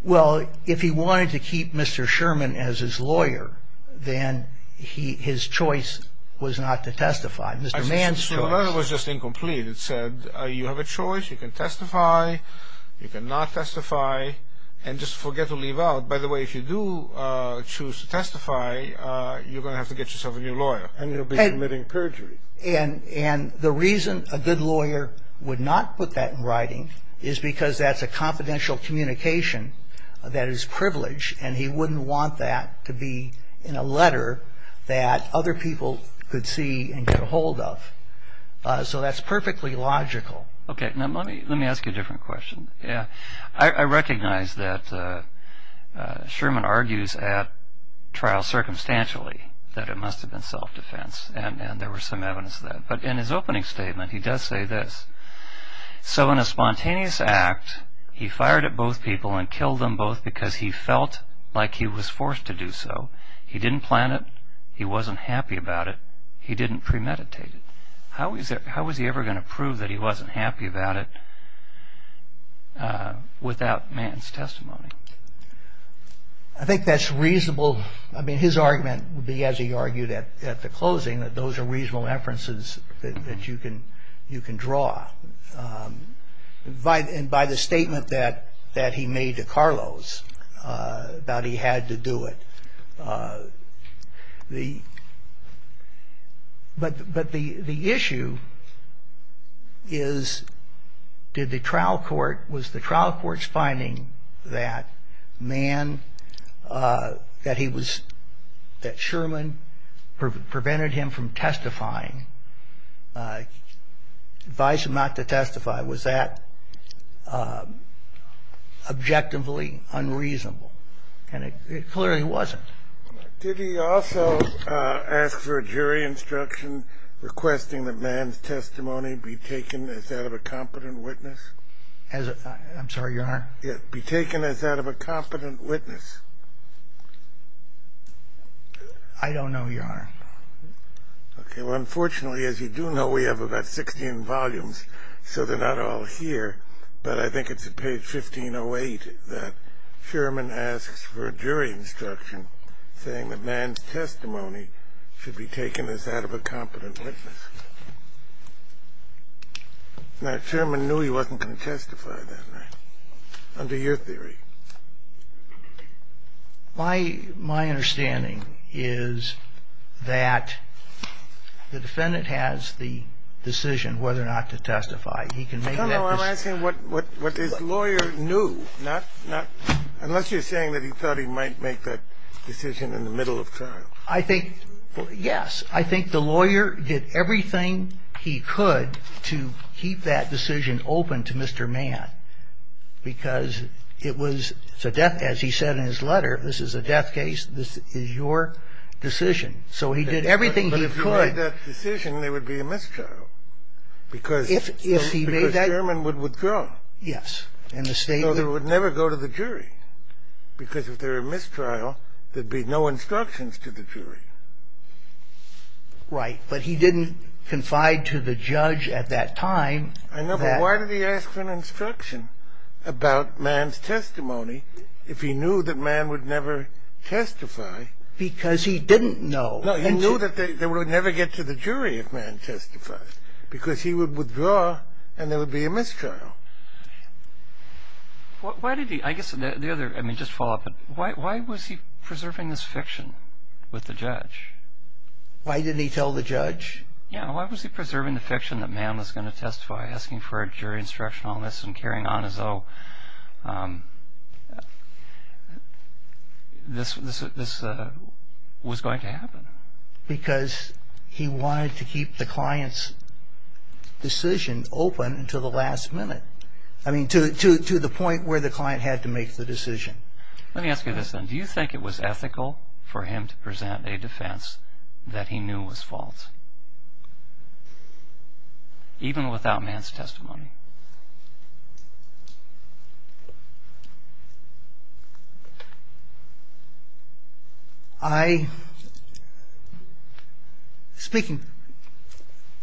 Well, if he wanted to keep Mr. Sherman as his lawyer, then his choice was not to testify. The letter was just incomplete. It said you have a choice, you can testify, you can not testify, and just forget to leave out. By the way, if you do choose to testify, you're going to have to get yourself a new lawyer. And you'll be committing perjury. And the reason a good lawyer would not put that in writing is because that's a confidential communication that is privileged, and he wouldn't want that to be in a letter that other people could see and get a hold of. So that's perfectly logical. Okay, now let me ask you a different question. I recognize that Sherman argues at trial circumstantially that it must have been self-defense, and there was some evidence of that. But in his opening statement, he does say this. So in a spontaneous act, he fired at both people and killed them both because he felt like he was forced to do so. He didn't plan it. He wasn't happy about it. He didn't premeditate it. How was he ever going to prove that he wasn't happy about it without man's testimony? I think that's reasonable. I mean, his argument would be, as he argued at the closing, that those are reasonable inferences that you can draw. And by the statement that he made to Carlos, that he had to do it. But the issue is, was the trial court's finding that Sherman prevented him from testifying, advised him not to testify, was that objectively unreasonable? And it clearly wasn't. Did he also ask for a jury instruction requesting that man's testimony be taken as that of a competent witness? I'm sorry, Your Honor? Yes, be taken as that of a competent witness. I don't know, Your Honor. Okay, well, unfortunately, as you do know, we have about 16 volumes, so they're not all here. But I think it's at page 1508 that Sherman asks for a jury instruction saying that man's testimony should be taken as that of a competent witness. Now, Sherman knew he wasn't going to testify that night, under your theory. My understanding is that the defendant has the decision whether or not to testify. He can make that decision. No, no, I'm asking what his lawyer knew, not unless you're saying that he thought he might make that decision in the middle of trial. I think, yes, I think the lawyer did everything he could to keep that decision open to Mr. Mann. Because it was, as he said in his letter, this is a death case, this is your decision. So he did everything he could. If he made that decision, there would be a mistrial. Because Sherman would withdraw. Yes. So they would never go to the jury. Because if there were a mistrial, there'd be no instructions to the jury. Right, but he didn't confide to the judge at that time. I know, but why did he ask for an instruction about Mann's testimony if he knew that Mann would never testify? Because he didn't know. No, he knew that they would never get to the jury if Mann testified. Because he would withdraw and there would be a mistrial. Why did he, I guess the other, I mean, just follow up, why was he preserving this fiction with the judge? Why didn't he tell the judge? Yeah, why was he preserving the fiction that Mann was going to testify, asking for a jury instruction on this and carrying on as though this was going to happen? Because he wanted to keep the client's decision open until the last minute. I mean, to the point where the client had to make the decision. Let me ask you this then. Do you think it was ethical for him to present a defense that he knew was false, even without Mann's testimony? I, speaking,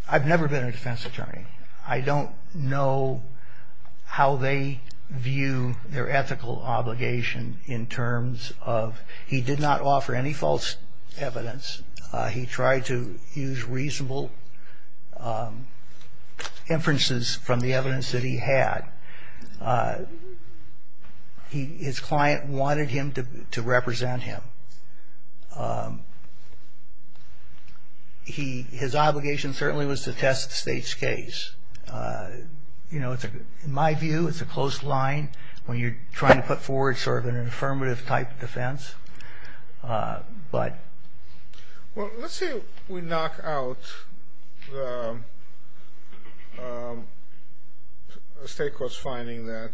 I've never been a defense attorney. I don't know how they view their ethical obligation in terms of, he did not offer any false evidence. He tried to use reasonable inferences from the evidence that he had. His client wanted him to represent him. His obligation certainly was to test the state's case. You know, in my view, it's a closed line when you're trying to put forward sort of an affirmative type defense. Well, let's say we knock out the state court's finding that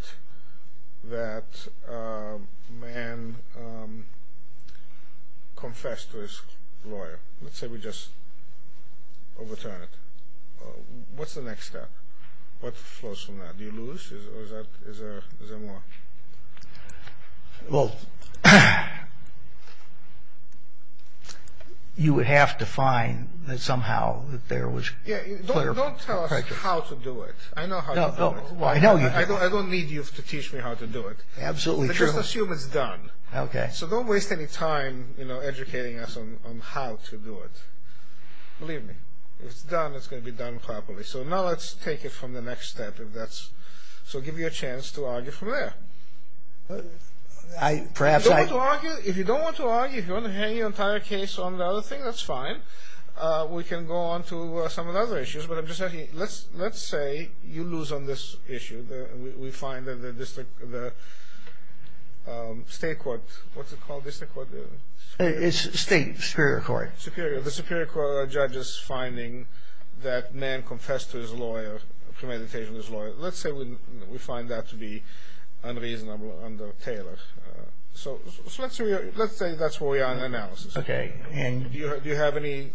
Mann confessed to his lawyer. Let's say we just overturn it. What's the next step? What flows from that? Do you lose or is there more? Well, you would have to find that somehow that there was clear proof. Don't tell us how to do it. I know how to do it. I don't need you to teach me how to do it. Absolutely. Just assume it's done. Okay. So don't waste any time educating us on how to do it. Believe me. If it's done, it's going to be done properly. So now let's take it from the next step. So I'll give you a chance to argue from there. If you don't want to argue, if you want to hang your entire case on the other thing, that's fine. We can go on to some of the other issues. But let's say you lose on this issue. We find that the state court, what's it called? State superior court. Superior. The superior court judges finding that man confessed to his lawyer, premeditated his lawyer. Let's say we find that to be unreasonable under Taylor. So let's say that's where we are in analysis. Do you have any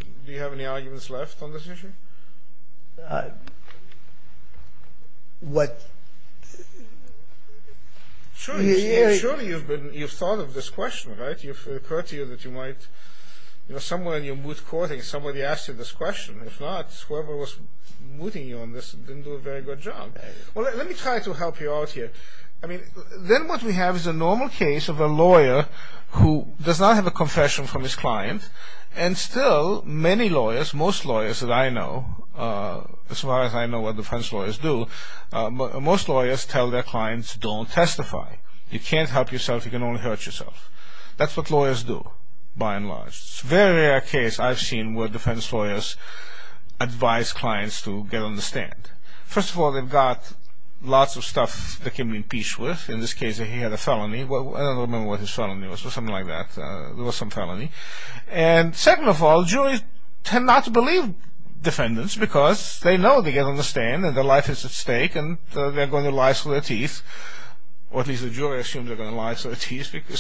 arguments left on this issue? What? Surely you've thought of this question, right? It occurred to you that you might, somewhere in your moot court, somebody asked you this question. If not, whoever was mooting you on this didn't do a very good job. Well, let me try to help you out here. I mean, then what we have is a normal case of a lawyer who does not have a confession from his client, and still many lawyers, most lawyers that I know, as far as I know what defense lawyers do, most lawyers tell their clients, don't testify. You can't help yourself. You can only hurt yourself. That's what lawyers do, by and large. It's a very rare case I've seen where defense lawyers advise clients to get on the stand. First of all, they've got lots of stuff they can be impeached with. In this case, he had a felony. I don't remember what his felony was, but something like that. There was some felony. And second of all, juries tend not to believe defendants because they know they get on the stand or at least the jury assumes they're going to lie, so it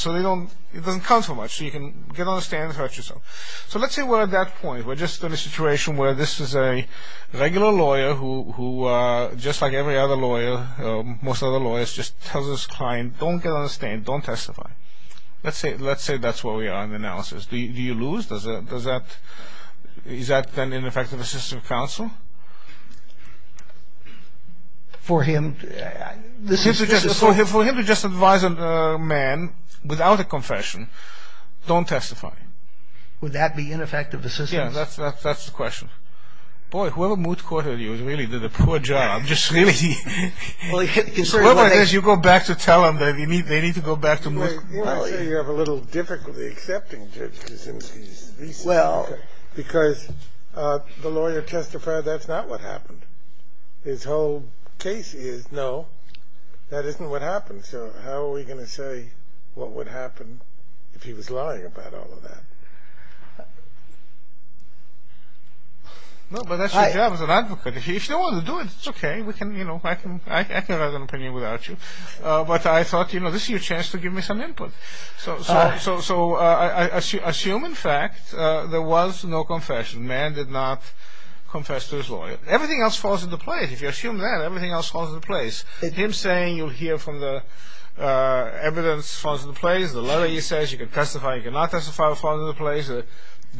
doesn't count so much. You can get on the stand and hurt yourself. So let's say we're at that point. We're just in a situation where this is a regular lawyer who, just like every other lawyer, most other lawyers just tell this client, don't get on the stand. Don't testify. Let's say that's where we are in the analysis. Do you lose? Is that an ineffective assistant counsel? For him, for him to just advise a man without a confession, don't testify. Would that be ineffective assistance? Yeah, that's the question. Boy, whoever Moots caught with you really did a poor job. Whoever it is, you go back to tell them that they need to go back to Moots. Well, you have a little difficulty accepting just because the lawyer testified that's not what happened. His whole case is, no, that isn't what happened. So how are we going to say what would happen if he was lying about all of that? No, but that's your job as an advocate. If you don't want to do it, it's okay. I can write an opinion without you. But I thought, you know, this is your chance to give me some input. So assume, in fact, there was no confession. The man did not confess to his lawyer. Everything else falls into place. If you assume that, everything else falls into place. Him saying you'll hear from the evidence falls into place. The letter he says you can testify, you cannot testify falls into place. The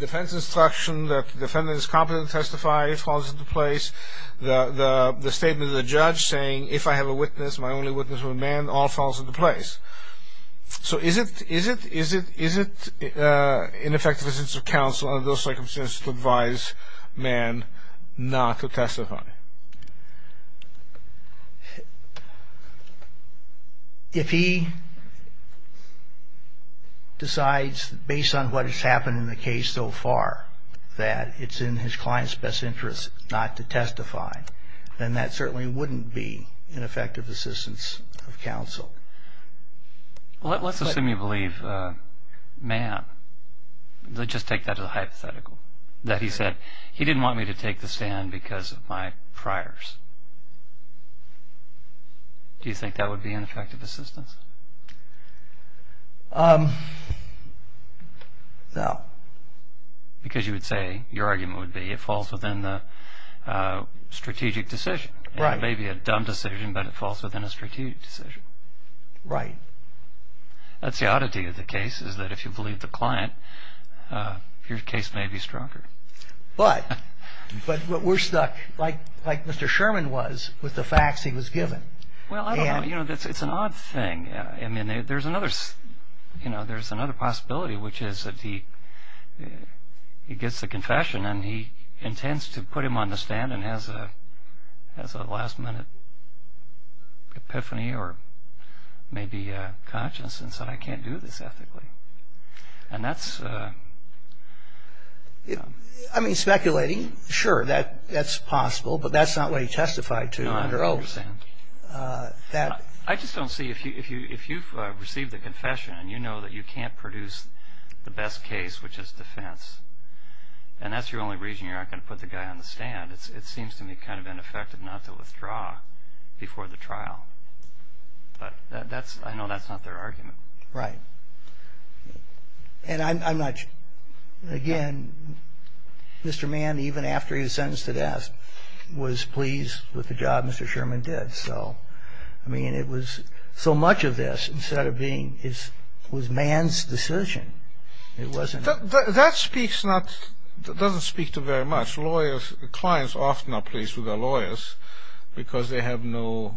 defense instruction that the defendant is competent to testify falls into place. The statement of the judge saying, if I have a witness, my only witness would be a man, all falls into place. So is it in effect a sense of counsel under those circumstances to advise a man not to testify? If he decides, based on what has happened in the case so far, that it's in his client's best interest not to testify, then that certainly wouldn't be an effective assistance of counsel. Let's assume you believe a man. That he said, he didn't want me to take the stand because of my priors. Do you think that would be an effective assistance? No. Because you would say, your argument would be it falls within the strategic decision. It may be a dumb decision, but it falls within a strategic decision. Right. That's the oddity of the case, is that if you believe the client, your case may be stronger. But we're stuck, like Mr. Sherman was, with the facts he was given. It's an odd thing. I mean, there's another possibility, which is that he gets the confession, and he intends to put him on the stand and has a last-minute epiphany or maybe a conscience and says, I can't do this ethically. I mean, speculating, sure, that's possible, but that's not what he testified to under oath. I just don't see, if you've received the confession and you know that you can't produce the best case, which is defense, and that's your only reason you're not going to put the guy on the stand, it seems to me kind of ineffective not to withdraw before the trial. But I know that's not their argument. Right. And I'm not sure. Again, Mr. Mann, even after he was sentenced to death, was pleased with the job Mr. Sherman did. So, I mean, it was so much of this, instead of being, it was Mann's decision. It wasn't. That speaks not, doesn't speak to very much. Lawyers, clients often are pleased with their lawyers because they have no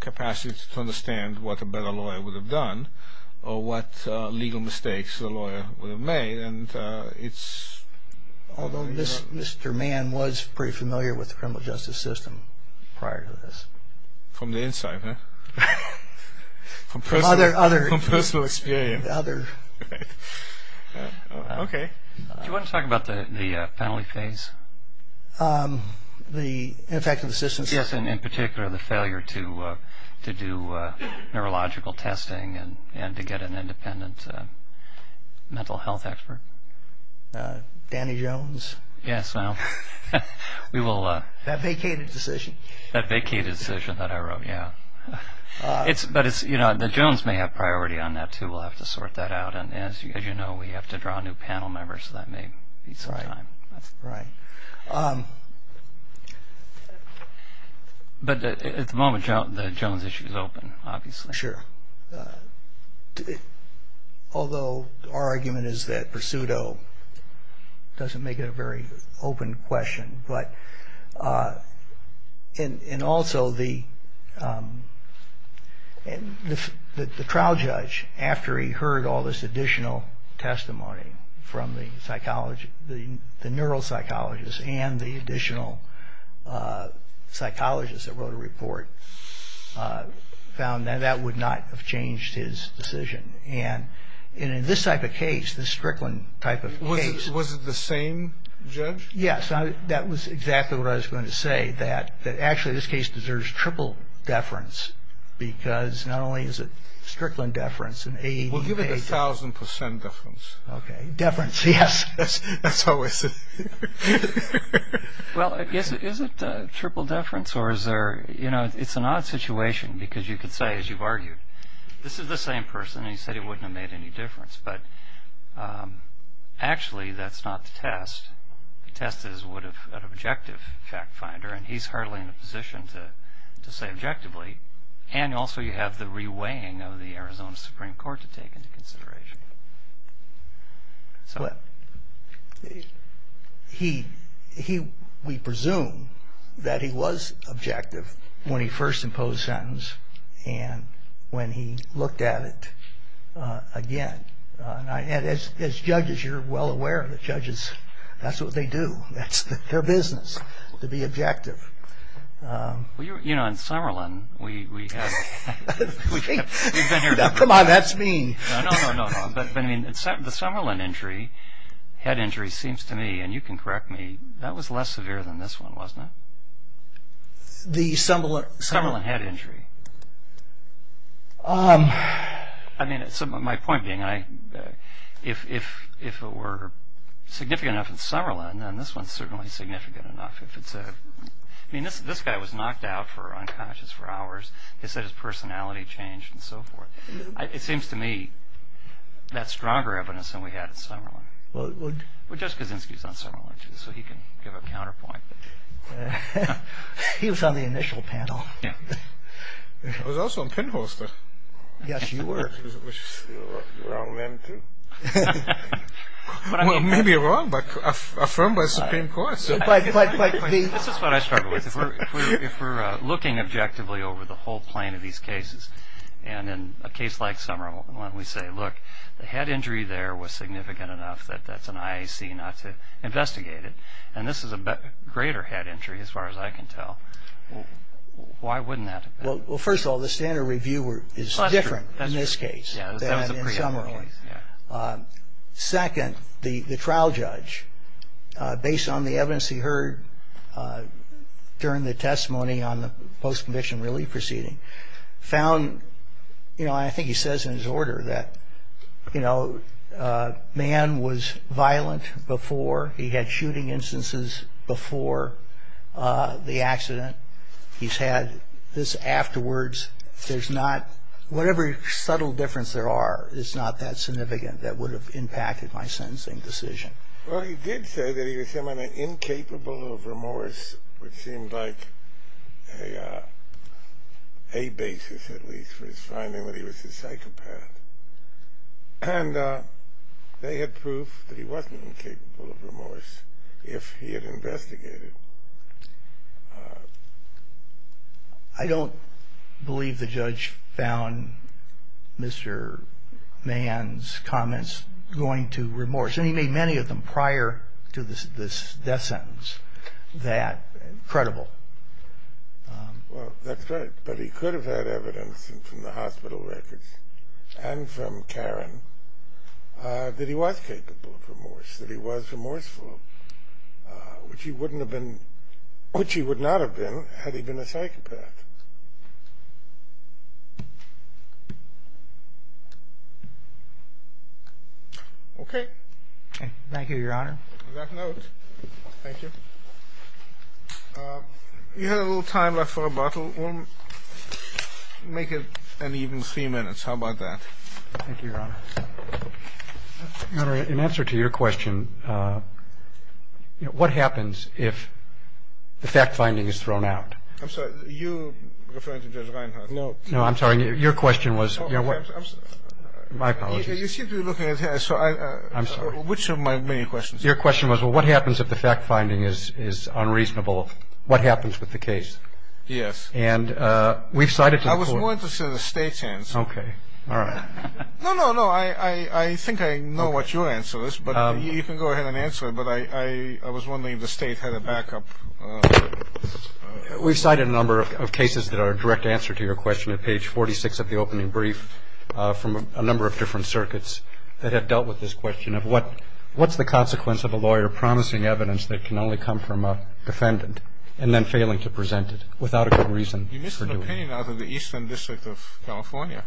capacity to understand what a better lawyer would have done or what legal mistakes the lawyer would have made, and it's... Although Mr. Mann was pretty familiar with the criminal justice system prior to this. From the inside, huh? From personal experience. Okay. Do you want to talk about the penalty phase? The ineffective assistance. Yes, and in particular, the failure to do neurological testing and to get an independent mental health expert. Danny Jones. Yes. We will... That vacated decision. That vacated decision that I wrote, yeah. But, you know, the Jones may have priority on that, too. We'll have to sort that out. As you know, we have to draw new panel members, so that may be some time. Right. But at the moment, the Jones issue is open, obviously. Sure. Although our argument is that Pursuito doesn't make it a very open question, but... The trial judge, after he heard all this additional testimony from the neuropsychologist and the additional psychologist that wrote a report, found that that would not have changed his decision. And in this type of case, this Strickland type of case... Was it the same judge? Yes, that was exactly what I was going to say, that actually this case deserves triple deference, because not only is it Strickland deference... We'll give it a thousand percent deference. Okay. Deference, yes. That's how it is. Well, is it triple deference, or is there... You know, it's an odd situation, because you could say, as you've argued, this is the same person, and he said it wouldn't have made any difference. But actually, that's not the test. The test is would an objective fact finder, and he's hardly in a position to say objectively. And also, you have the reweighing of the Arizona Supreme Court to take into consideration. Well, we presume that he was objective when he first imposed sentence, and when he looked at it again. As judges, you're well aware of the judges. That's what they do. That's their business, to be objective. Well, you know, in Sauerland, we have... Come on, that's mean. No, no, no, no. But, I mean, the Sauerland injury, head injury, seems to me, and you can correct me, that was less severe than this one, wasn't it? The Sauerland? Sauerland head injury. I mean, my point being, if it were significant enough in Sauerland, and this one's certainly significant enough. I mean, this guy was knocked out for unconscious for hours. His personality changed and so forth. It seems to me that's stronger evidence than we had at Sauerland. Well, Jessica Zinsky's on Sauerland, too, so he can give a counterpoint. He was on the initial panel. I was also on PIN poster. Yes, you were. You're a wrong man, too. Well, maybe you're wrong, but affirmed by the Supreme Court. That's what I struggle with. If we're looking objectively over the whole plane of these cases, and in a case like Summer, why don't we say, look, the head injury there was significant enough that that's an IAC not to investigate it, and this is a greater head injury, as far as I can tell. Why wouldn't that be? Well, first of all, the standard review is different in this case than in Summer. Second, the trial judge, based on the evidence he heard during the testimony on the post-conviction relief proceeding, found, you know, I think he says in his order that, you know, man was violent before. He had shooting instances before the accident. He's had this afterwards. There's not – whatever subtle difference there are is not that significant that would have impacted my sentencing decision. Well, he did say that he was incapable of remorse, which seemed like a basis, at least, for his finding that he was a psychopath. And they had proof that he wasn't incapable of remorse if he had investigated. I don't believe the judge found Mr. Mann's comments going to remorse, and he made many of them prior to this death sentence that credible. Well, that's right. But he could have had evidence from the hospital records and from Karen that he was capable of remorse, that he was remorseful, which he would not have been had he been a psychopath. Okay. Thank you, Your Honor. You had a little time left for a bottle. Make it an even three minutes. How about that? Thank you, Your Honor. Your Honor, in answer to your question, what happens if the fact-finding is thrown out? I'm sorry. You referred to Judge Reinhardt. No. No, I'm sorry. Your question was – My apologies. I'm sorry. Which of my main questions are you referring to? Your question was, well, what happens if the fact-finding is unreasonable? What happens with the case? Yes. And we've cited – I was more interested in the state's answer. Okay. All right. No, no, no. I think I know what your answer is, but you can go ahead and answer it. But I was wondering if the state had a backup. We've cited a number of cases that are a direct answer to your question at page 46 of the opening brief from a number of different circuits that have dealt with this question of, what's the consequence of a lawyer promising evidence that can only come from a defendant and then failing to present it without a good reason for doing it? He missed an opinion out of the Eastern District of California.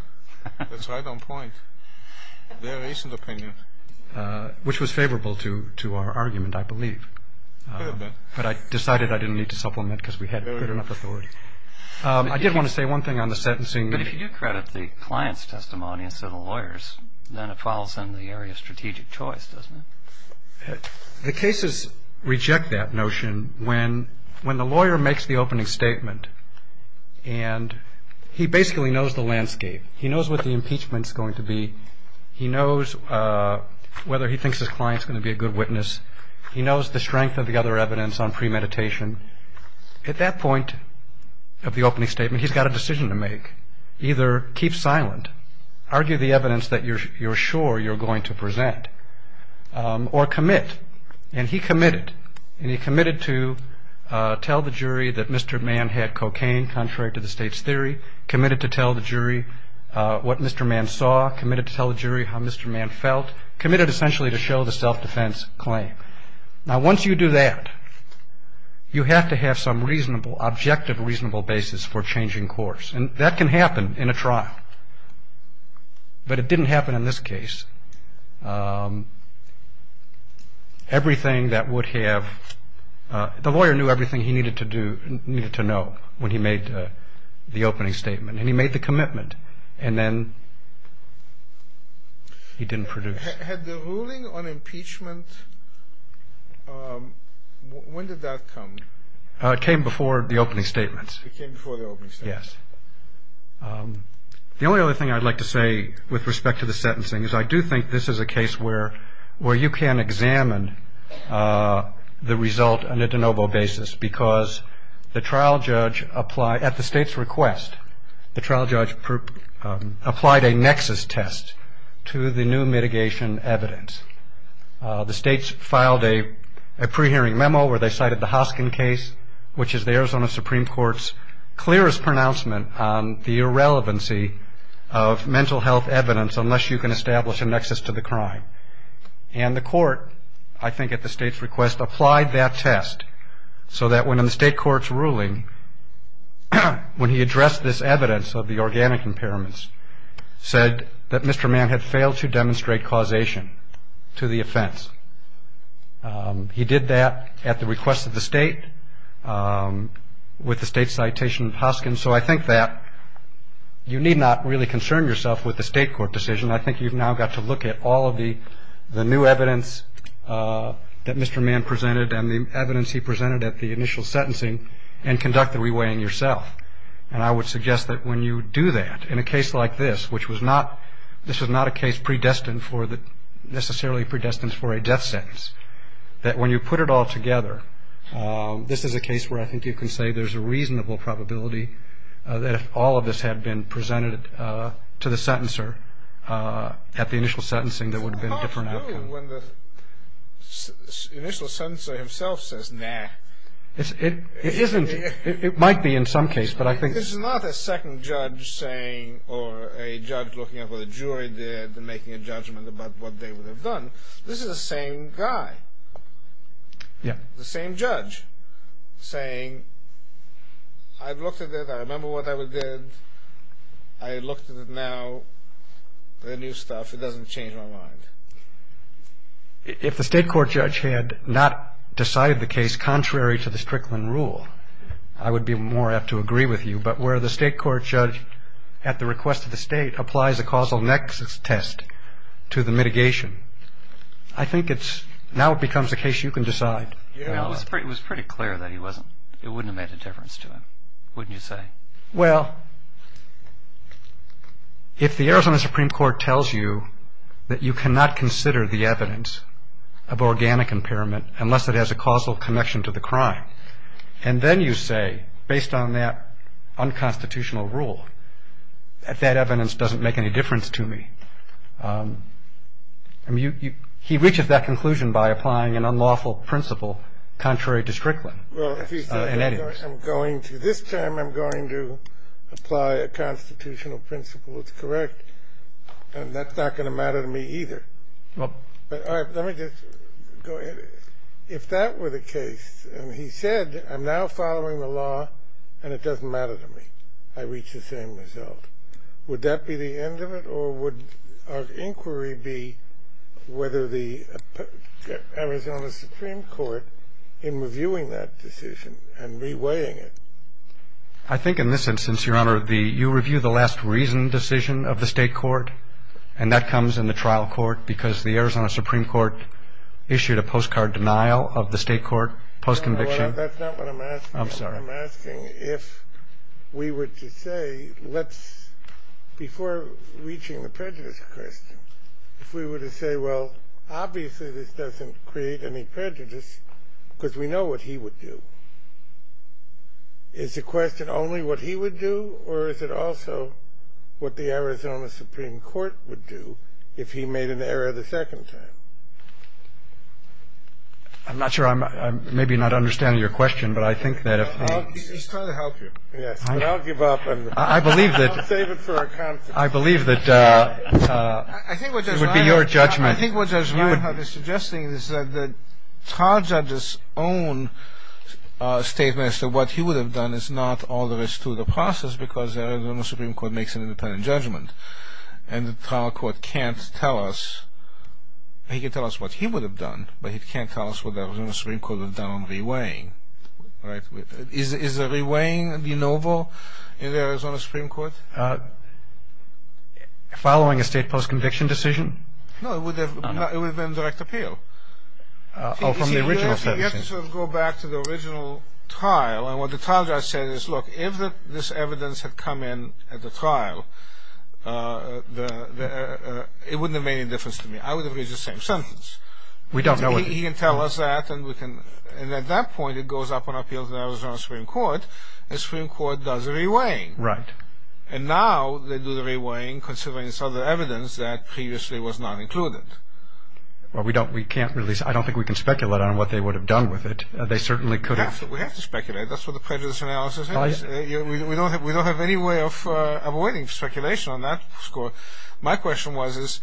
That's right on point. Their recent opinion. Which was favorable to our argument, I believe. Fair enough. But I decided I didn't need to supplement because we had good enough authority. I did want to say one thing on the sentencing. But if you credit the client's testimony and so the lawyer's, then it follows into the area of strategic choice, doesn't it? The cases reject that notion when the lawyer makes the opening statement and he basically knows the landscape. He knows what the impeachment's going to be. He knows whether he thinks his client's going to be a good witness. He knows the strength of the other evidence on premeditation. At that point of the opening statement, he's got a decision to make. Either keep silent, argue the evidence that you're sure you're going to present, or commit. And he committed. And he committed to tell the jury that Mr. Mann had cocaine, contrary to the state's theory. Committed to tell the jury what Mr. Mann saw. Committed to tell the jury how Mr. Mann felt. Committed essentially to show the self-defense claim. Now, once you do that, you have to have some reasonable, objective reasonable basis for changing course. And that can happen in a trial. But it didn't happen in this case. Everything that would have, the lawyer knew everything he needed to know when he made the opening statement. And he made the commitment. And then he didn't produce. Had the ruling on impeachment, when did that come? It came before the opening statement. It came before the opening statement. Yes. The only other thing I'd like to say, with respect to the sentencing, is I do think this is a case where you can examine the result on a de novo basis. Because the trial judge applied, at the state's request, the trial judge applied a nexus test to the new mitigation evidence. The states filed a pre-hearing memo where they cited the Hoskin case, which is the Arizona Supreme Court's clearest pronouncement on the irrelevancy of mental health evidence unless you can establish a nexus to the crime. And the court, I think at the state's request, applied that test so that when in the state court's ruling, when he addressed this evidence of the organic impairments, said that Mr. Mann had failed to demonstrate causation to the offense. He did that at the request of the state with the state citation of Hoskin. So I think that you need not really concern yourself with the state court decision. I think you've now got to look at all of the new evidence that Mr. Mann presented and the evidence he presented at the initial sentencing and conduct the re-weighing yourself. And I would suggest that when you do that in a case like this, which was not a case necessarily predestined for a death sentence, that when you put it all together, this is a case where I think you can say there's a reasonable probability that if all of this had been presented to the sentencer at the initial sentencing, there would have been a different outcome. I don't know when the initial sentencer himself says, nah. It might be in some case, but I think... It's not a second judge saying or a judge looking at what a jury did and making a judgment about what they would have done. This is the same guy, the same judge saying, I've looked at it, I remember what I did, I looked at it now, the new stuff, it doesn't change my mind. If a state court judge had not decided the case contrary to the Strickland rule, I would be more apt to agree with you. But where the state court judge, at the request of the state, applies a causal nexus test to the mitigation, I think now it becomes a case you can decide. It was pretty clear that it wouldn't have made a difference to him, wouldn't you say? Well, if the Arizona Supreme Court tells you that you cannot consider the evidence of organic impairment unless it has a causal connection to the crime, and then you say, based on that unconstitutional rule, that that evidence doesn't make any difference to me. He reaches that conclusion by applying an unlawful principle contrary to Strickland. This time I'm going to apply a constitutional principle that's correct, and that's not going to matter to me either. But let me just go ahead. If that were the case and he said, I'm now following the law and it doesn't matter to me, I reach the same result, would that be the end of it? Or would our inquiry be whether the Arizona Supreme Court, in reviewing that decision and reweighing it? I think in this instance, Your Honor, you review the last reasoned decision of the state court, and that comes in the trial court because the Arizona Supreme Court issued a postcard denial of the state court post-conviction. That's not what I'm asking. I'm sorry. I'm asking if we were to say, before reaching the prejudice question, if we were to say, well, obviously this doesn't create any prejudice because we know what he would do. Is the question only what he would do, or is it also what the Arizona Supreme Court would do if he made an error the second time? I'm not sure. Your Honor, I'm maybe not understanding your question, but I think that if he... He's trying to help you. I'll give up. I believe that it would be your judgment. I think what Judge Levin had me suggesting is that the trial judge's own statement as to what he would have done is not all there is to the process because the Arizona Supreme Court makes an independent judgment, and the trial court can't tell us. He can tell us what he would have done, but he can't tell us what the Arizona Supreme Court would have done on re-weighing. Is a re-weighing denoble in the Arizona Supreme Court? Following a state post-conviction decision? No, it would have been direct appeal. Oh, from the original... If you go back to the original trial, and what the trial judge said is, Look, if this evidence had come in at the trial, it wouldn't have made any difference to me. I would have reached the same sentence. We don't know what... He can tell us that, and at that point it goes up on appeal to the Arizona Supreme Court. The Supreme Court does a re-weighing. Right. And now they do the re-weighing considering some of the evidence that previously was not included. Well, we can't really... I don't think we can speculate on what they would have done with it. They certainly could have... We have to speculate. That's what the prejudice analysis is. We don't have any way of avoiding speculation on that score. My question was,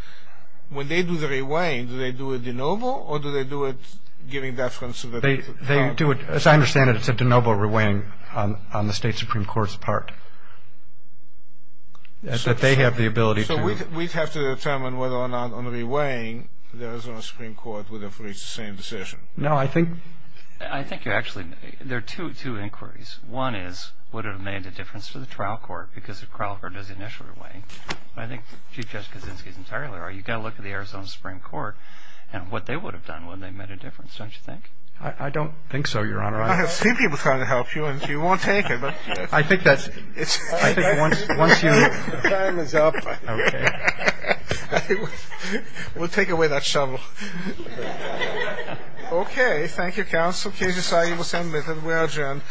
when they do the re-weighing, do they do a denoble or do they do it giving deference to the... As I understand it, it's a denoble re-weighing on the state Supreme Court's part. They have the ability to... So we'd have to determine whether or not on the re-weighing the Arizona Supreme Court would have reached the same decision. No, I think... There are two inquiries. One is would it have made a difference to the trial court because the trial court does the initial re-weighing, but I think Chief Justice Kaczynski and Taylor, you've got to look at the Arizona Supreme Court and what they would have done when they made a difference, don't you think? I don't think so, Your Honor. I have seen people trying to help you and you won't take it, but... I think that's... I think once you... The panel is up. Okay. We'll take away that shuttle. Okay. Thank you, counsel. Thank you. Thank you. Thank you.